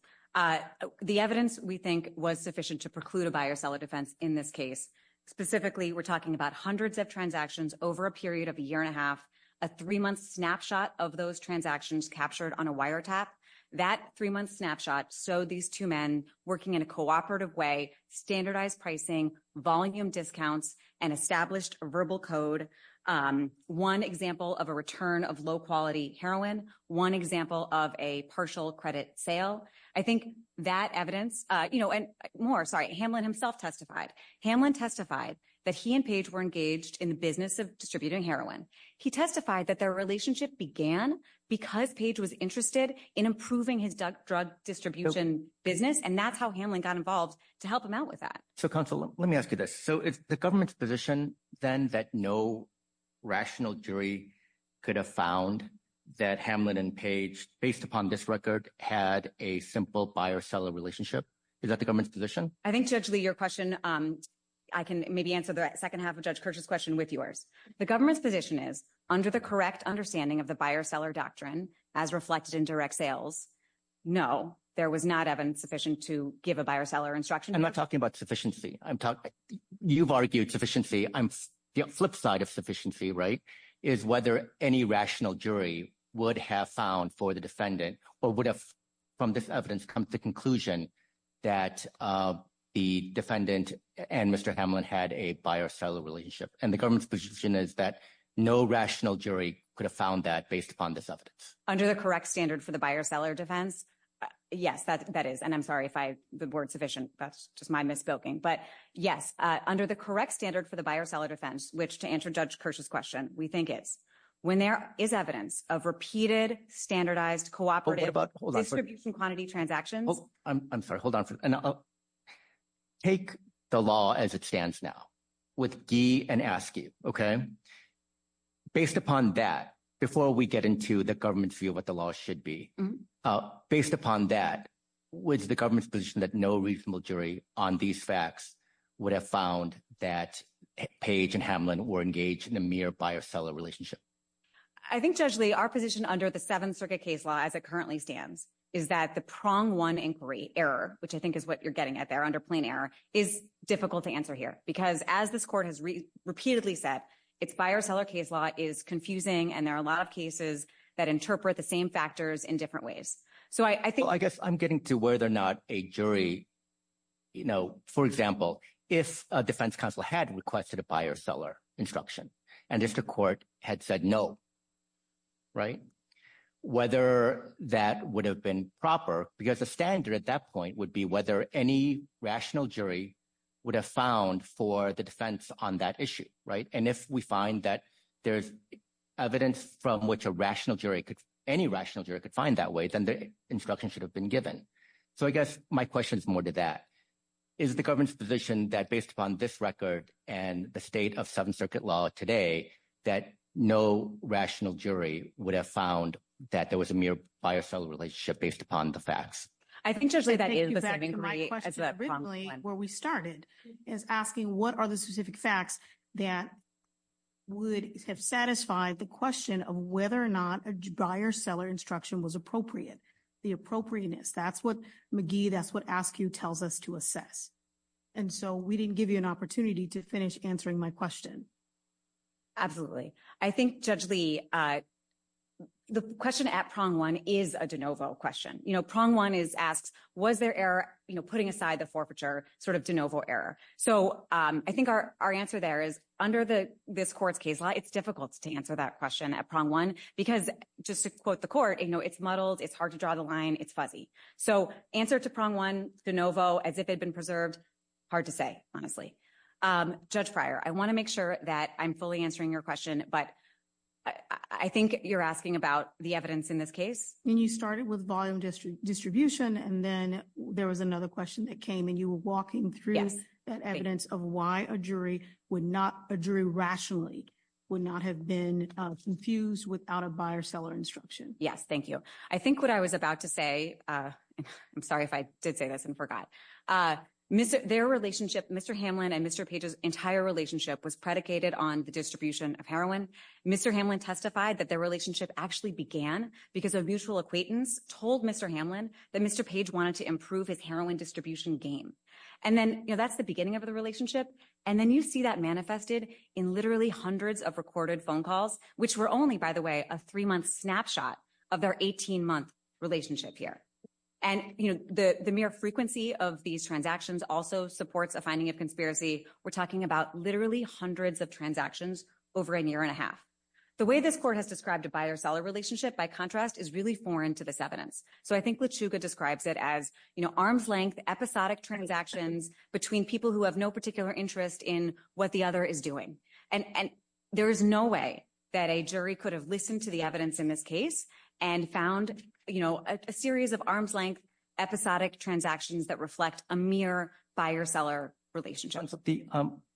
The evidence, we think, was sufficient to preclude a buyer-seller defense in this case. Specifically, we're talking about hundreds of transactions over a period of a year and a half, a three-month snapshot of those transactions captured on a wiretap. That three-month snapshot showed these two men working in a cooperative way, standardized pricing, volume discounts, and established a verbal code. One example of a return of low-quality heroin, one example of a partial credit sale. I think that evidence, you know, and more, sorry, Hamlin himself testified. Hamlin testified that he and Page were engaged in the business of distributing heroin. He testified that their relationship began because Page was interested in improving his drug distribution business, and that's how Hamlin got involved to help him out with that. So, counsel, let me ask you this. So is the government's position then that no rational jury could have found that Hamlin and Page, based upon this record, had a simple buyer-seller relationship? Is that the government's position? I think, Judge Lee, your question, I can maybe answer the second half of Judge Kirsch's question with yours. The government's position is, under the correct understanding of the buyer-seller doctrine, as reflected in direct sales, no, there was not evidence sufficient to give a buyer-seller instruction. I'm not talking about sufficiency. You've argued sufficiency. The flip side of sufficiency is whether any rational jury would have found for the defendant or would have, from this evidence, come to the conclusion that the defendant and Mr. Hamlin had a buyer-seller relationship. And the government's position is that no rational jury could have found that based upon this evidence. Under the correct standard for the buyer-seller defense, yes, that is. And I'm sorry if the word sufficiency, that's just my misspeaking. But yes, under the correct standard for the buyer-seller defense, which, to answer Judge Kirsch's question, we think it, when there is evidence of repeated standardized cooperative distribution quantity transactions… Hold on. I'm sorry. Hold on. Take the law as it stands now with gee and asky, okay? Based upon that, before we get into the government's view of what the law should be, based upon that, was the government's position that no reasonable jury on these facts would have found that Page and Hamlin were engaged in a mere buyer-seller relationship? I think, Judge Lee, our position under the Seventh Circuit case law as it currently stands is that the prong one inquiry error, which I think is what you're getting at there under plain error, is difficult to answer here because, as this court has repeatedly said, its buyer-seller case law is confusing, and there are a lot of cases that interpret the same factors in different ways. So I guess I'm getting to whether or not a jury, for example, if a defense counsel had requested a buyer-seller instruction and if the court had said no, whether that would have been proper because the standard at that point would be whether any rational jury would have found for the defense on that issue. And if we find that there's evidence from which a rational jury, any rational jury could find that way, then the instruction should have been given. So I guess my question is more to that. Is the government's position that based upon this record and the state of Seventh Circuit law today that no rational jury would have found that there was a mere buyer-seller relationship based upon the facts? I think, Judge Lee, that is the second question. I think that my question originally, where we started, is asking what are the specific facts that would satisfy the question of whether or not a buyer-seller instruction was appropriate, the appropriateness. That's what McGee, that's what AFCU tells us to assess. And so we didn't give you an opportunity to finish answering my question. Absolutely. I think, Judge Lee, the question at prong one is a de novo question. Prong one is asked, was there error putting aside the forfeiture, sort of de novo error? So I think our answer there is under this court's case law, it's difficult to answer that question at prong one because, just to quote the court, it's muddled, it's hard to draw the line, it's fuzzy. So answer to prong one, de novo, as if it had been preserved, hard to say, honestly. Judge Fryer, I want to make sure that I'm fully answering your question, but I think you're asking about the evidence in this case. And you started with volume distribution, and then there was another question that came, and you were walking through evidence of why a jury would not, a jury rationally would not have been confused without a buyer-seller instruction. Yes, thank you. I think what I was about to say, I'm sorry if I did say this and forgot, their relationship, Mr. Hamlin and Mr. Page's entire relationship was predicated on the distribution of heroin. Mr. Hamlin testified that their relationship actually began because a mutual acquaintance told Mr. Hamlin that Mr. Page wanted to improve his heroin distribution game. And then, you know, that's the beginning of the relationship. And then you see that manifested in literally hundreds of recorded phone calls, which were only, by the way, a three-month snapshot of their 18-month relationship here. And, you know, the mere frequency of these transactions also supports a finding of conspiracy. We're talking about literally hundreds of transactions over a year and a half. The way this court has described a buyer-seller relationship, by contrast, is really foreign to this evidence. So I think LeChuga describes it as, you know, arm's length, episodic transactions between people who have no particular interest in what the other is doing. And there is no way that a jury could have listened to the evidence in this case and found, you know, a series of arm's length, episodic transactions that reflect a mere buyer-seller relationship.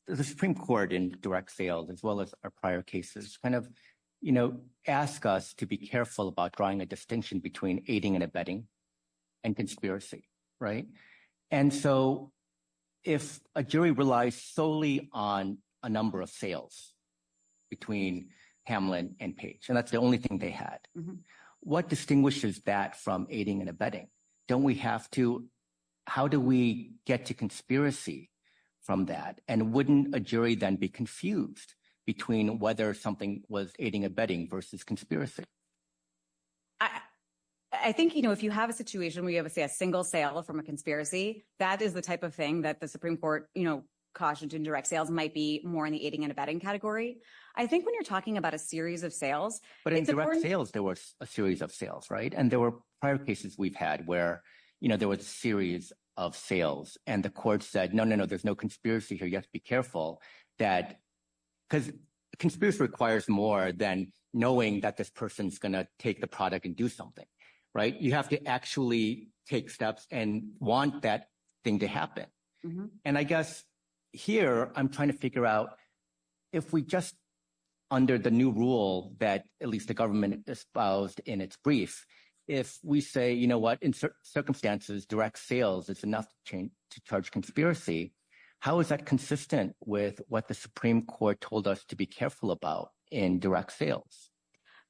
The Supreme Court in direct sale, as well as our prior cases, kind of, you know, asked us to be careful about drawing a distinction between aiding and abetting and conspiracy, right? And so if a jury relies solely on a number of sales between Hamlin and Page, and that's the only thing they had, what distinguishes that from aiding and abetting? Don't we have to – how do we get to conspiracy from that? And wouldn't a jury then be confused between whether something was aiding and abetting versus conspiracy? I think, you know, if you have a situation where you have, say, a single sale from a conspiracy, that is the type of thing that the Supreme Court, you know, cautioned in direct sales might be more in the aiding and abetting category. I think when you're talking about a series of sales… But in direct sales, there was a series of sales, right? And there were prior cases we've had where there was a series of sales, and the court said, no, no, no, there's no conspiracy here. You have to be careful that – because conspiracy requires more than knowing that this person is going to take the product and do something, right? You have to actually take steps and want that thing to happen. And I guess here I'm trying to figure out if we just – under the new rule that at least the government espoused in its brief, if we say, you know what, in certain circumstances, direct sales is enough to charge conspiracy, how is that consistent with what the Supreme Court told us to be careful about in direct sales?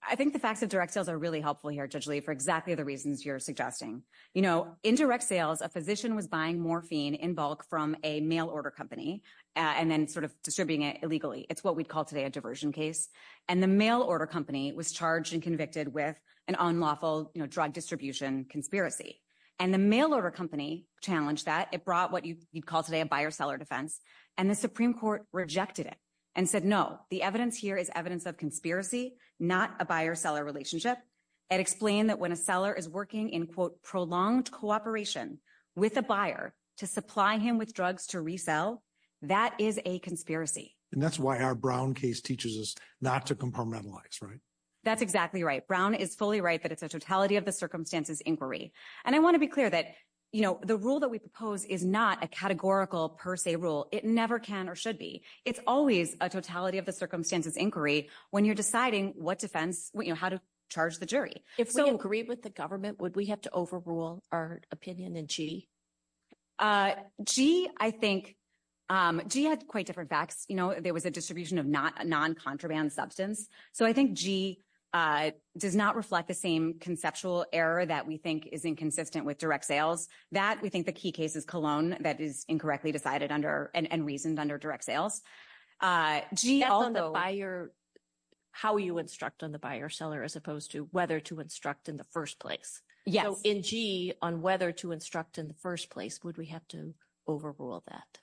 I think the fact that direct sales are really helpful here, Judge Lee, for exactly the reasons you're suggesting. In direct sales, a physician was buying morphine in bulk from a mail-order company and then sort of distributing it illegally. It's what we'd call today a diversion case. And the mail-order company was charged and convicted with an unlawful drug distribution conspiracy. And the mail-order company challenged that. It brought what you'd call today a buyer-seller defense. And the Supreme Court rejected it and said, no, the evidence here is evidence of conspiracy, not a buyer-seller relationship. It explained that when a seller is working in, quote, prolonged cooperation with a buyer to supply him with drugs to resell, that is a conspiracy. And that's why our Brown case teaches us not to compartmentalize, right? That's exactly right. Brown is fully right that it's a totality of the circumstances inquiry. And I want to be clear that the rule that we propose is not a categorical per se rule. It never can or should be. It's always a totality of the circumstances inquiry when you're deciding what defense, how to charge the jury. If we agreed with the government, would we have to overrule our opinion in G? G, I think, G has quite different facts. There was a distribution of non-contraband substance. So I think G does not reflect the same conceptual error that we think is inconsistent with direct sales. That, we think the key case is Cologne that is incorrectly decided under and reasoned under direct sales. G also — That's on the buyer — how you instruct on the buyer-seller as opposed to whether to instruct in the first place. Yes. So in G, on whether to instruct in the first place, would we have to overrule that?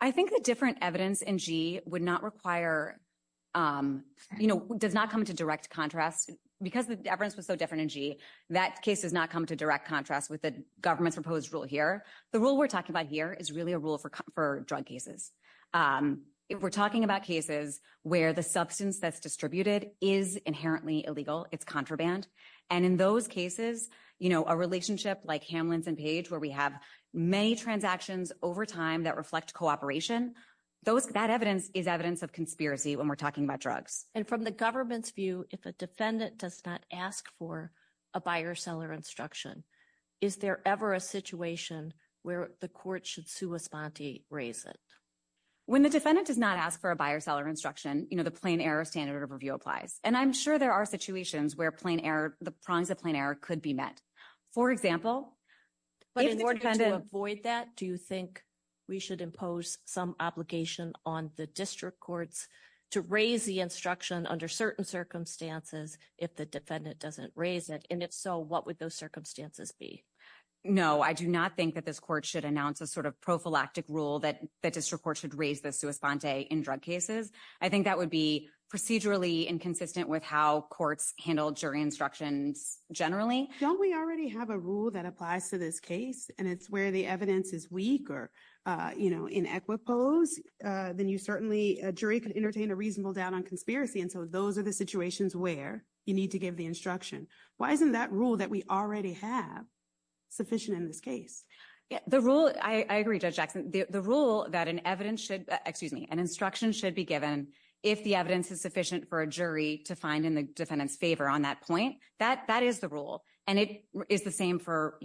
I think the different evidence in G would not require — you know, does not come to direct contrast. Because the evidence was so different in G, that case does not come to direct contrast with the government's proposed rule here. The rule we're talking about here is really a rule for drug cases. We're talking about cases where the substance that's distributed is inherently illegal. It's contraband. And in those cases, you know, a relationship like Hamlin's and Page where we have many transactions over time that reflect cooperation, that evidence is evidence of conspiracy when we're talking about drugs. And from the government's view, if a defendant does not ask for a buyer-seller instruction, is there ever a situation where the court should sui sponte raise it? When the defendant does not ask for a buyer-seller instruction, you know, the plain error standard of review applies. And I'm sure there are situations where the prongs of plain error could be met. For example? But in order to avoid that, do you think we should impose some obligation on the district courts to raise the instruction under certain circumstances if the defendant doesn't raise it? And if so, what would those circumstances be? No, I do not think that this court should announce a sort of prophylactic rule that the district court should raise the sui sponte in drug cases. I think that would be procedurally inconsistent with how courts handle jury instructions generally. Don't we already have a rule that applies to this case and it's where the evidence is weak or, you know, inequitables? Then you certainly, a jury could entertain a reasonable doubt on conspiracy. And so those are the situations where you need to give the instruction. Why isn't that rule that we already have sufficient in this case? The rule that an evidence should excuse me, an instruction should be given. If the evidence is sufficient for a jury to find in the defendant's favor on that point, that that is the rule. And it is the same for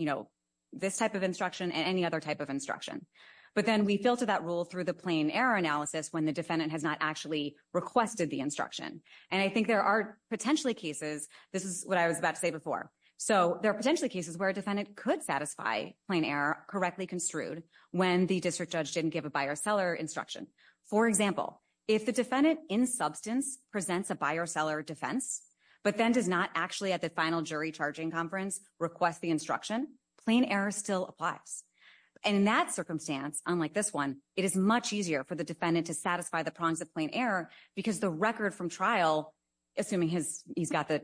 this type of instruction and any other type of instruction. But then we filter that rule through the plain error analysis when the defendant has not actually requested the instruction. And I think there are potentially cases. This is what I was about to say before. So there are potentially cases where a defendant could satisfy plain error correctly construed when the district judge didn't give a buyer seller instruction. For example, if the defendant in substance presents a buyer seller defense, but then does not actually at the final jury charging conference request the instruction, plain error still applies. And in that circumstance, unlike this one, it is much easier for the defendant to satisfy the prongs of plain error because the record from trial, assuming he's got the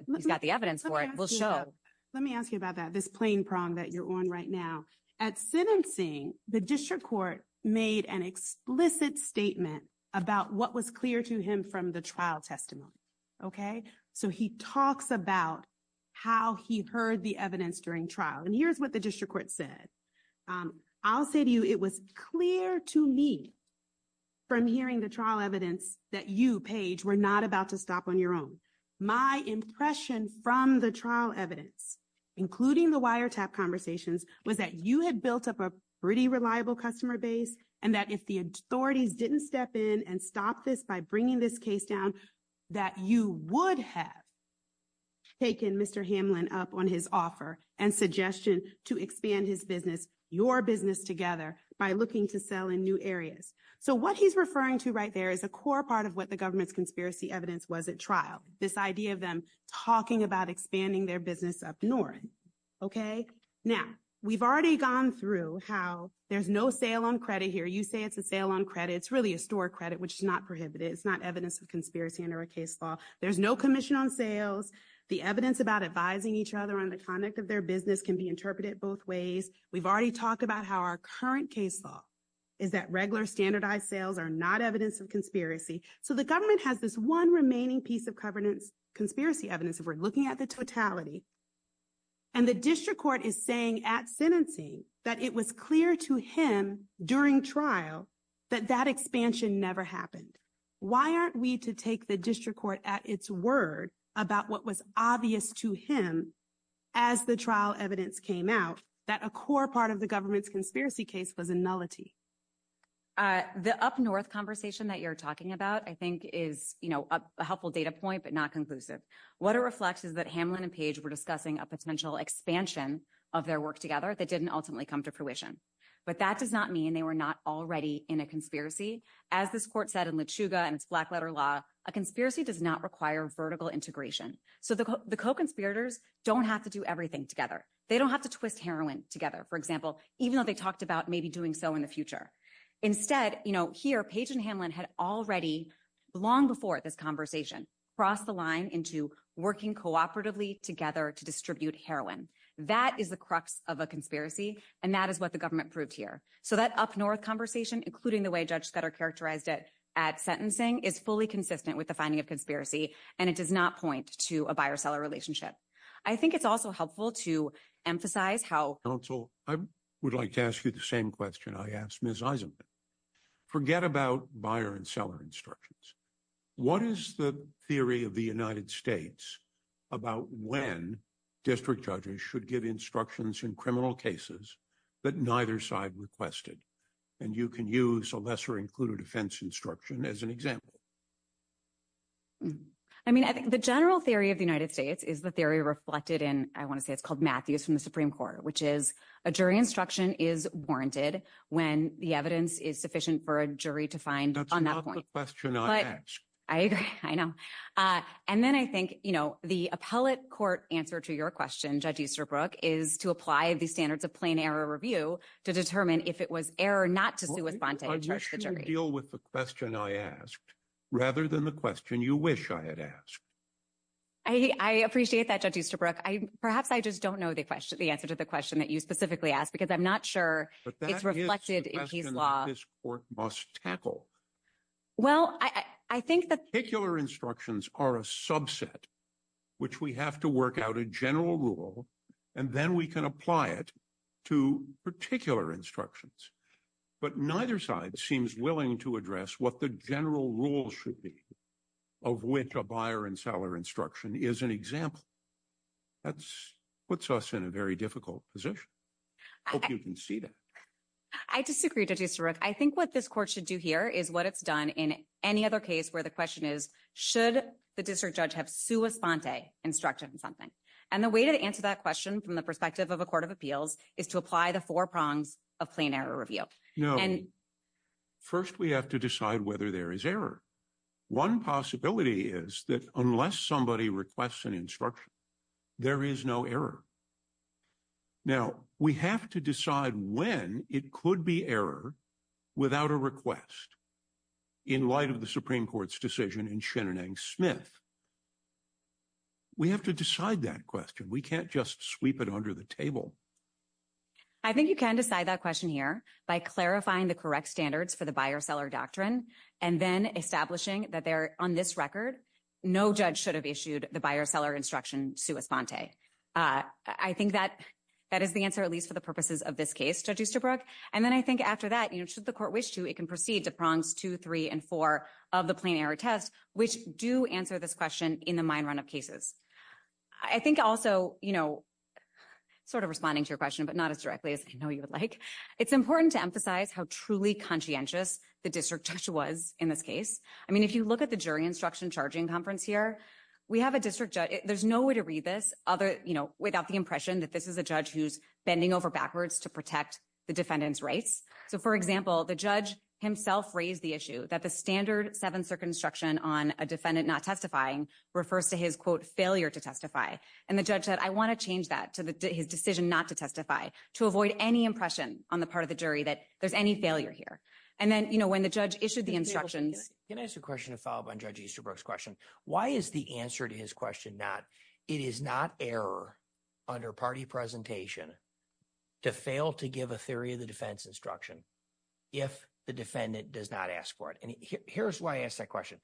evidence for it, will show. Let me ask you about that, this plain prong that you're on right now. At sentencing, the district court made an explicit statement about what was clear to him from the trial testimony. Okay? So he talks about how he heard the evidence during trial. And here's what the district court said. I'll say to you, it was clear to me from hearing the trial evidence that you, Paige, were not about to stop on your own. My impression from the trial evidence, including the wiretap conversations, was that you had built up a pretty reliable customer base. And that if the authority didn't step in and stop this by bringing this case down, that you would have taken Mr. Hamlin up on his offer and suggestion to expand his business, your business together, by looking to sell in new areas. So what he's referring to right there is a core part of what the government's conspiracy evidence was at trial. This idea of them talking about expanding their business up north. Okay? Now, we've already gone through how there's no sale on credit here. You say it's a sale on credit. It's really a store credit, which is not prohibited. It's not evidence of conspiracy under a case law. There's no commission on sales. The evidence about advising each other on the conduct of their business can be interpreted both ways. We've already talked about how our current case law is that regular standardized sales are not evidence of conspiracy. So the government has this one remaining piece of conspiracy evidence if we're looking at the totality. And the district court is saying at sentencing that it was clear to him during trial that that expansion never happened. Why aren't we to take the district court at its word about what was obvious to him as the trial evidence came out that a core part of the government's conspiracy case was a nullity? The up north conversation that you're talking about, I think, is a helpful data point, but not conclusive. What it reflects is that Hamlin and Page were discussing a potential expansion of their work together that didn't ultimately come to fruition. But that does not mean they were not already in a conspiracy. As this court said in LeChuga and Blackletter Law, a conspiracy does not require vertical integration. So the co-conspirators don't have to do everything together. They don't have to twist heroin together. For example, even though they talked about maybe doing so in the future. Instead, here, Page and Hamlin had already, long before this conversation, crossed the line into working cooperatively together to distribute heroin. That is the crux of a conspiracy, and that is what the government proved here. So that up north conversation, including the way judges better characterized it at sentencing, is fully consistent with the finding of conspiracy, and it does not point to a buyer-seller relationship. I think it's also helpful to emphasize how— Counsel, I would like to ask you the same question I asked Ms. Eisenman. Forget about buyer and seller instructions. What is the theory of the United States about when district judges should give instructions in criminal cases that neither side requested? And you can use a lesser-included offense instruction as an example. I mean, I think the general theory of the United States is the theory reflected in—I want to say it's called Matthews from the Supreme Court, which is a jury instruction is warranted when the evidence is sufficient for a jury to find on that point. That's not the question I asked. I agree. I know. And then I think the appellate court answer to your question, Judge Easterbrook, is to apply the standards of plain error review to determine if it was error not to do a spontaneous search of the jury. I deal with the question I asked rather than the question you wish I had asked. I appreciate that, Judge Easterbrook. Perhaps I just don't know the answer to the question that you specifically asked because I'm not sure it's reflected in his law. But that is the question that this court must tackle. Well, I think that— Particular instructions are a subset, which we have to work out a general rule, and then we can apply it to particular instructions. But neither side seems willing to address what the general rule should be of which a buyer and seller instruction is an example. That puts us in a very difficult position. I hope you can see that. I disagree, Judge Easterbrook. I think what this court should do here is what it's done in any other case where the question is, should the district judge have sua sponte, instructed in something? And the way to answer that question from the perspective of a court of appeals is to apply the four prongs of plain error review. No. First, we have to decide whether there is error. One possibility is that unless somebody requests an instruction, there is no error. Now, we have to decide when it could be error without a request in light of the Supreme Court's decision in Shenanigans-Smith. We have to decide that question. We can't just sweep it under the table. I think you can decide that question here by clarifying the correct standards for the buyer-seller doctrine and then establishing that on this record, no judge should have issued the buyer-seller instruction sua sponte. I think that is the answer, at least for the purposes of this case, Judge Easterbrook. And then I think after that, should the court wish to, it can proceed to prongs two, three, and four of the plain error test, which do answer this question in the mine run of cases. I think also, sort of responding to your question, but not as directly as I know you would like, it's important to emphasize how truly conscientious the district judge was in this case. I mean, if you look at the jury instruction charging conference here, we have a district judge, there's no way to read this without the impression that this is a judge who's bending over backwards to protect the defendant's rights. So, for example, the judge himself raised the issue that the standard seventh circuit instruction on a defendant not testifying refers to his, quote, failure to testify. And the judge said, I want to change that to his decision not to testify to avoid any impression on the part of the jury that there's any failure here. And then when the judge issued the instruction… Can I ask a question to follow up on Judge Easterbrook's question? Why is the answer to his question not, it is not error under party presentation to fail to give a theory of the defense instruction if the defendant does not ask for it? And here's why I ask that question.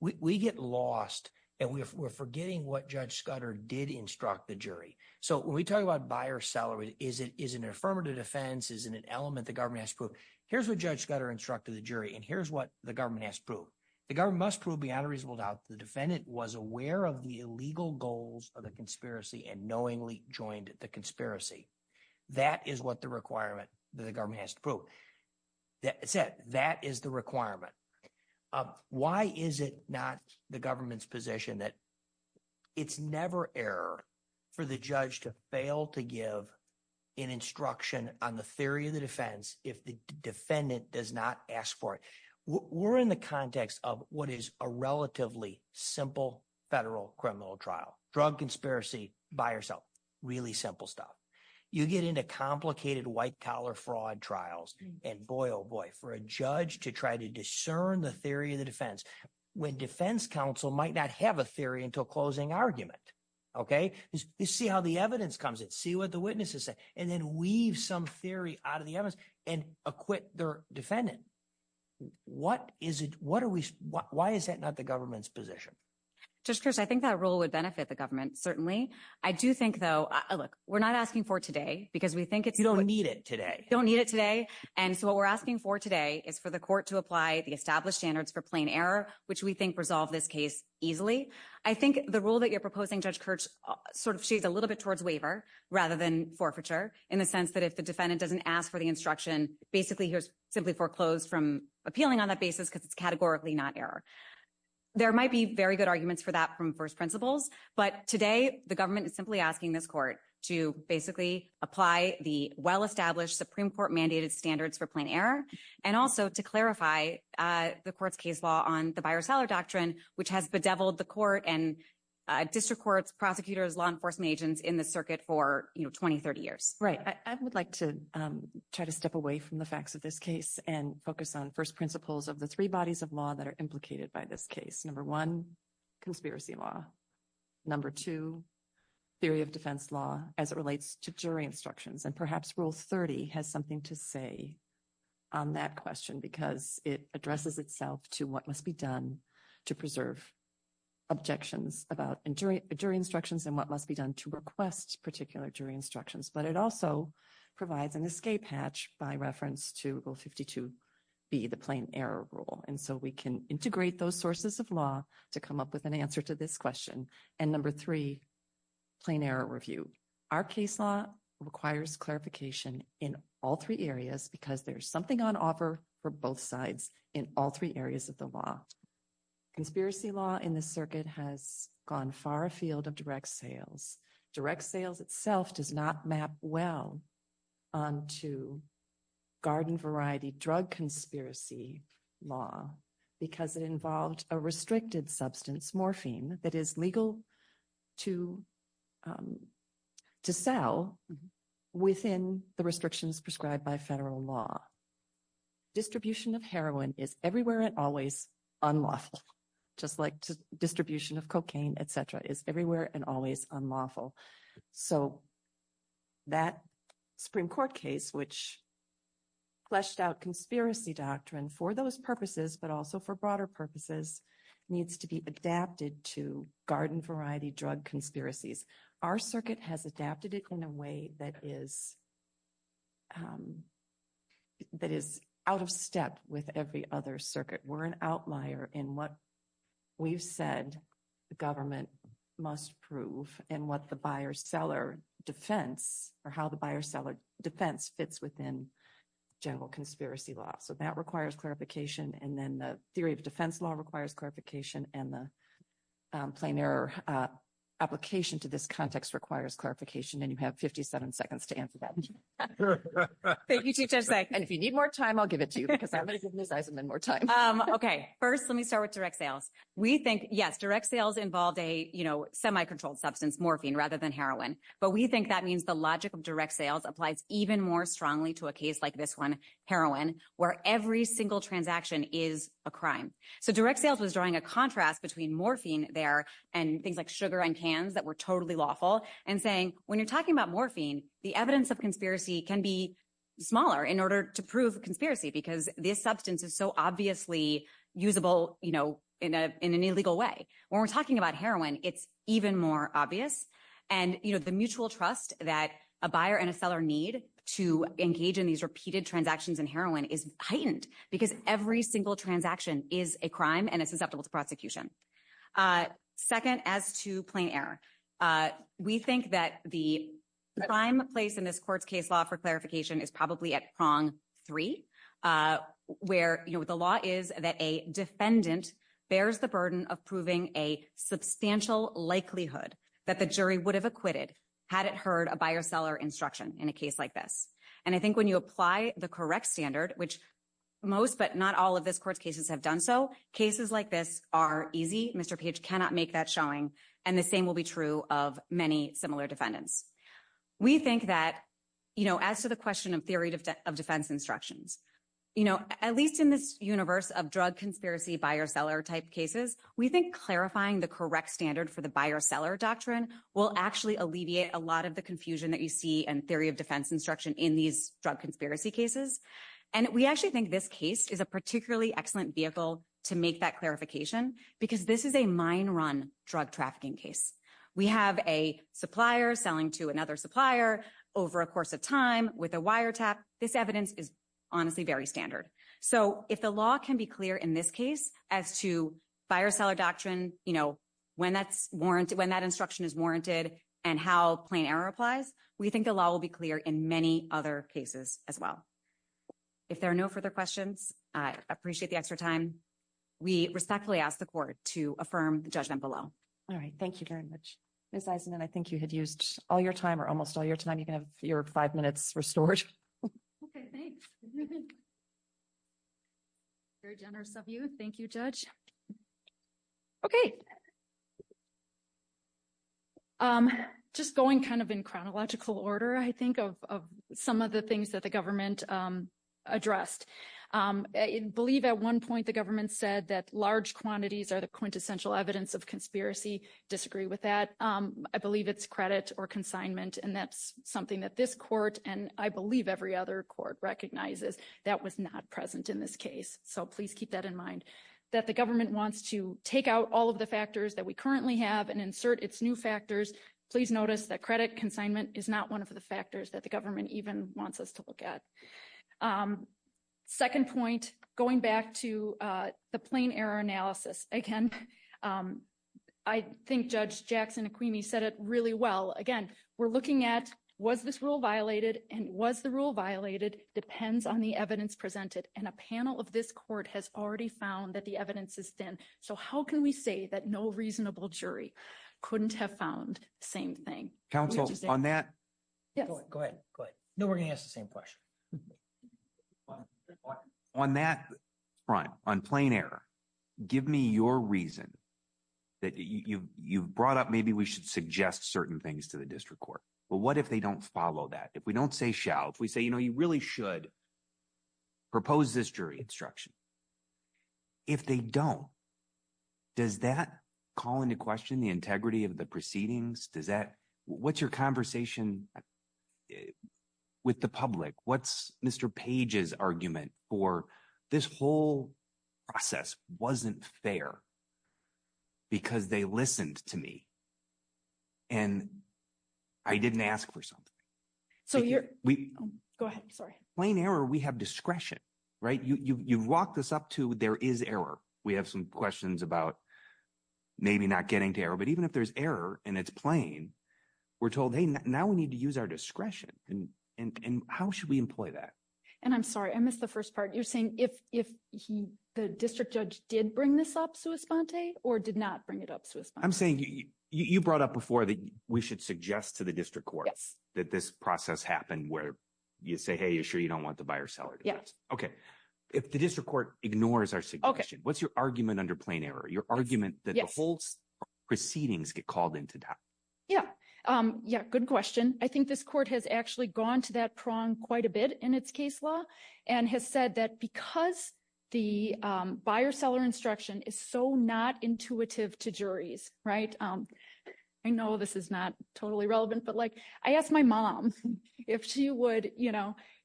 We get lost, and we're forgetting what Judge Scudder did instruct the jury. So when we talk about buyer-seller, is it an affirmative defense? Is it an element the government has to prove? Here's what Judge Scudder instructed the jury, and here's what the government has to prove. The government must prove beyond a reasonable doubt the defendant was aware of the illegal goals of the conspiracy and knowingly joined the conspiracy. That is what the requirement that the government has to prove. That is the requirement. Why is it not the government's position that it's never error for the judge to fail to give an instruction on the theory of the defense if the defendant does not ask for it? We're in the context of what is a relatively simple federal criminal trial, drug conspiracy, buyer-sell, really simple stuff. You get into complicated white-collar fraud trials, and boy, oh boy, for a judge to try to discern the theory of the defense when defense counsel might not have a theory until closing argument. You see how the evidence comes in. See what the witnesses say, and then weave some theory out of the evidence and acquit their defendant. What is it – what are we – why is that not the government's position? Judge Kirsch, I think that rule would benefit the government, certainly. I do think, though – look, we're not asking for it today because we think it's – You don't need it today. You don't need it today, and so what we're asking for today is for the court to apply the established standards for plain error, which we think resolve this case easily. I think the rule that you're proposing, Judge Kirsch, sort of shaves a little bit towards waiver rather than forfeiture in the sense that if the defendant doesn't ask for the instruction, basically he's simply foreclosed from appealing on that basis because it's categorically not error. There might be very good arguments for that from first principles, but today the government is simply asking this court to basically apply the well-established Supreme Court-mandated standards for plain error and also to clarify the court's case law on the buyer-seller doctrine, which has bedeviled the court and district courts, prosecutors, law enforcement agents in the circuit for 20, 30 years. Right. I would like to try to step away from the facts of this case and focus on first principles of the three bodies of law that are implicated by this case. Number one, conspiracy law. Number two, theory of defense law as it relates to jury instructions. And perhaps Rule 30 has something to say on that question because it addresses itself to what must be done to preserve objections about jury instructions and what must be done to request particular jury instructions. But it also provides an escape hatch by reference to Rule 52B, the plain error rule. And so we can integrate those sources of law to come up with an answer to this question. And number three, plain error review. Our case law requires clarification in all three areas because there's something on offer for both sides in all three areas of the law. Conspiracy law in the circuit has gone far afield of direct sales. Direct sales itself does not map well to garden variety drug conspiracy law because it involved a restricted substance, morphine, that is legal to sell within the restrictions prescribed by federal law. Distribution of heroin is everywhere and always unlawful, just like distribution of cocaine, et cetera, is everywhere and always unlawful. So that Supreme Court case, which fleshed out conspiracy doctrines for those purposes but also for broader purposes, needs to be adapted to garden variety drug conspiracies. Our circuit has adapted it in a way that is out of step with every other circuit. We're an outlier in what we've said the government must prove and what the buyer-seller defense or how the buyer-seller defense fits within general conspiracy law. So that requires clarification. And then the theory of defense law requires clarification. And the plain error application to this context requires clarification. And you have 57 seconds to answer that. If you need more time, I'll give it to you because I'm going to give you more time. Okay. First, let me start with direct sales. We think, yes, direct sales involve a, you know, semi-controlled substance, morphine, rather than heroin. But we think that means the logic of direct sales applies even more strongly to a case like this one, heroin, where every single transaction is a crime. So direct sales is drawing a contrast between morphine there and things like sugar and cans that were totally lawful and saying, when you're talking about morphine, the evidence of conspiracy can be smaller in order to prove conspiracy because this substance is so obviously usable, you know, in an illegal way. When we're talking about heroin, it's even more obvious. And, you know, the mutual trust that a buyer and a seller need to engage in these repeated transactions in heroin is heightened because every single transaction is a crime and it's susceptible to prosecution. Second, as to plain error. We think that the prime place in this court's case law for clarification is probably at prong three, where, you know, the law is that a defendant bears the burden of proving a substantial likelihood that the jury would have acquitted had it heard a buyer-seller instruction in a case like this. And I think when you apply the correct standard, which most but not all of this court's cases have done so, cases like this are easy. Mr. Page cannot make that showing, and the same will be true of many similar defendants. We think that, you know, as to the question of theory of defense instructions, you know, at least in this universe of drug conspiracy buyer-seller type cases, we think clarifying the correct standard for the buyer-seller doctrine will actually alleviate a lot of the confusion that you see in theory of defense instruction in these drug conspiracy cases. And we actually think this case is a particularly excellent vehicle to make that clarification because this is a mine-run drug trafficking case. We have a supplier selling to another supplier over a course of time with a wiretap. This evidence is honestly very standard. So if the law can be clear in this case as to buyer-seller doctrine, you know, when that's warranted, when that instruction is warranted, and how plain error applies, we think the law will be clear in many other cases as well. If there are no further questions, I appreciate the extra time. We respectfully ask the court to affirm the judgment below. All right. Thank you very much. Ms. Eisenman, I think you have used all your time or almost all your time. You can have your five minutes restored. Okay, thanks. Very generous of you. Thank you, Judge. Okay. Just going kind of in chronological order, I think, of some of the things that the government addressed. I believe at one point the government said that large quantities are the quintessential evidence of conspiracy. Disagree with that. I believe it's credit or consignment. And that's something that this court, and I believe every other court recognizes, that was not present in this case. So please keep that in mind. That the government wants to take out all of the factors that we currently have and insert its new factors. Please notice that credit consignment is not one of the factors that the government even wants us to look at. Second point, going back to the plain error analysis. Again, I think Judge Jackson-Aquini said it really well. Again, we're looking at was this rule violated, and was the rule violated depends on the evidence presented. And a panel of this court has already found that the evidence is thin. So how can we say that no reasonable jury couldn't have found the same thing? Counsel, on that – Go ahead. No, we're going to ask the same question. On that front, on plain error, give me your reason that you brought up maybe we should suggest certain things to the district court. But what if they don't follow that? If we don't say shall, if we say you really should propose this jury instruction. If they don't, does that call into question the integrity of the proceedings? Does that – what's your conversation with the public? What's Mr. Page's argument for this whole process wasn't fair because they listened to me and I didn't ask for something? So you're – go ahead. Sorry. Plain error, we have discretion. Right? You walk this up to there is error. We have some questions about maybe not getting to error. But even if there's error and it's plain, we're told, hey, now we need to use our discretion. And how should we employ that? And I'm sorry, I missed the first part. You're saying if the district judge did bring this up sua sponte or did not bring it up sua sponte? I'm saying you brought up before that we should suggest to the district court that this process happen where you say, hey, you're sure you don't want the buyer-seller to do this. Yes. Okay. If the district court ignores our suggestion, what's your argument under plain error, your argument that the whole proceedings get called into doubt? Yeah, good question. I think this court has actually gone to that prong quite a bit in its case law and has said that because the buyer-seller instruction is so not intuitive to juries – I know this is not totally relevant. But I asked my mom if she would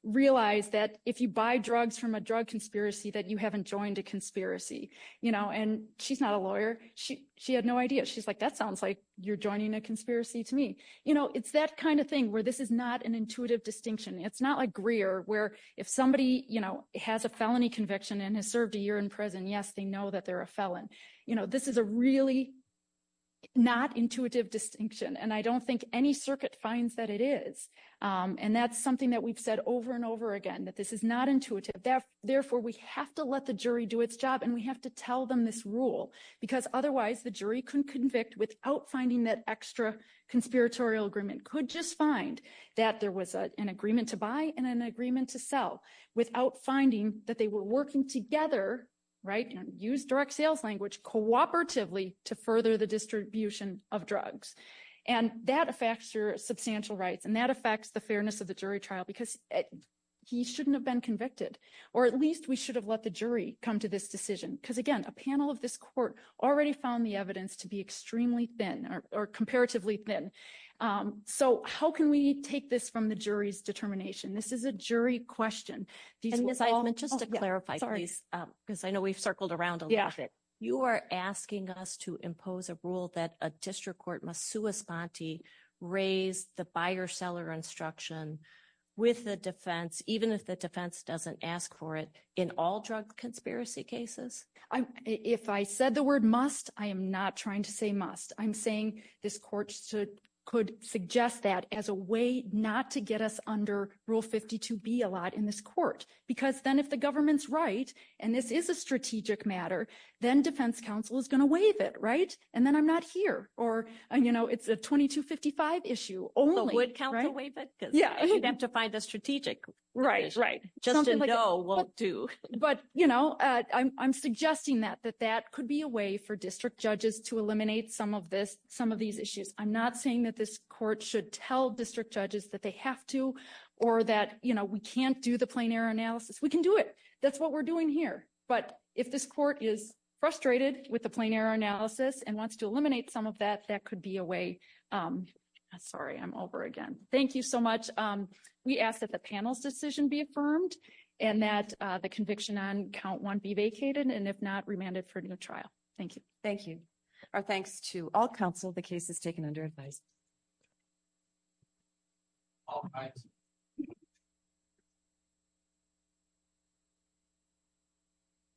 realize that if you buy drugs from a drug conspiracy that you haven't joined a conspiracy. And she's not a lawyer. She had no idea. She's like, that sounds like you're joining a conspiracy to me. It's that kind of thing where this is not an intuitive distinction. It's not like Greer where if somebody has a felony conviction and has served a year in prison, yes, they know that they're a felon. This is a really not intuitive distinction. And I don't think any circuit finds that it is. And that's something that we've said over and over again, that this is not intuitive. Therefore, we have to let the jury do its job and we have to tell them this rule because otherwise the jury can convict without finding that extra conspiratorial agreement. You could just find that there was an agreement to buy and an agreement to sell without finding that they were working together and used direct sales language cooperatively to further the distribution of drugs. And that affects your substantial rights, and that affects the fairness of the jury trial because he shouldn't have been convicted. Or at least we should have let the jury come to this decision. Because, again, a panel of this court already found the evidence to be extremely thin or comparatively thin. So how can we take this from the jury's determination? This is a jury question. And just to clarify, because I know we've circled around it, you are asking us to impose a rule that a district court must respond to raise the buyer seller instruction with the defense, even if the defense doesn't ask for it in all drug conspiracy cases. If I said the word must, I am not trying to say must. I'm saying this court could suggest that as a way not to get us under Rule 52B a lot in this court. Because then if the government's right, and this is a strategic matter, then defense counsel is going to waive it, right? And then I'm not here. Or, you know, it's a 2255 issue only. So would counsel waive it? Yeah. Identify the strategic. Right, right. Justin Doe won't do. But, you know, I'm suggesting that that that could be a way for district judges to eliminate some of this, some of these issues. I'm not saying that this court should tell district judges that they have to, or that, you know, we can't do the plenary analysis. We can do it. That's what we're doing here. But if this court is frustrated with the plenary analysis and wants to eliminate some of that, that could be a way. Sorry, I'm over again. Thank you so much. We ask that the panel's decision be affirmed, and that the conviction on count one be vacated, and if not, remanded for trial. Thank you. Thank you. Our thanks to all counsel. The case is taken under advice.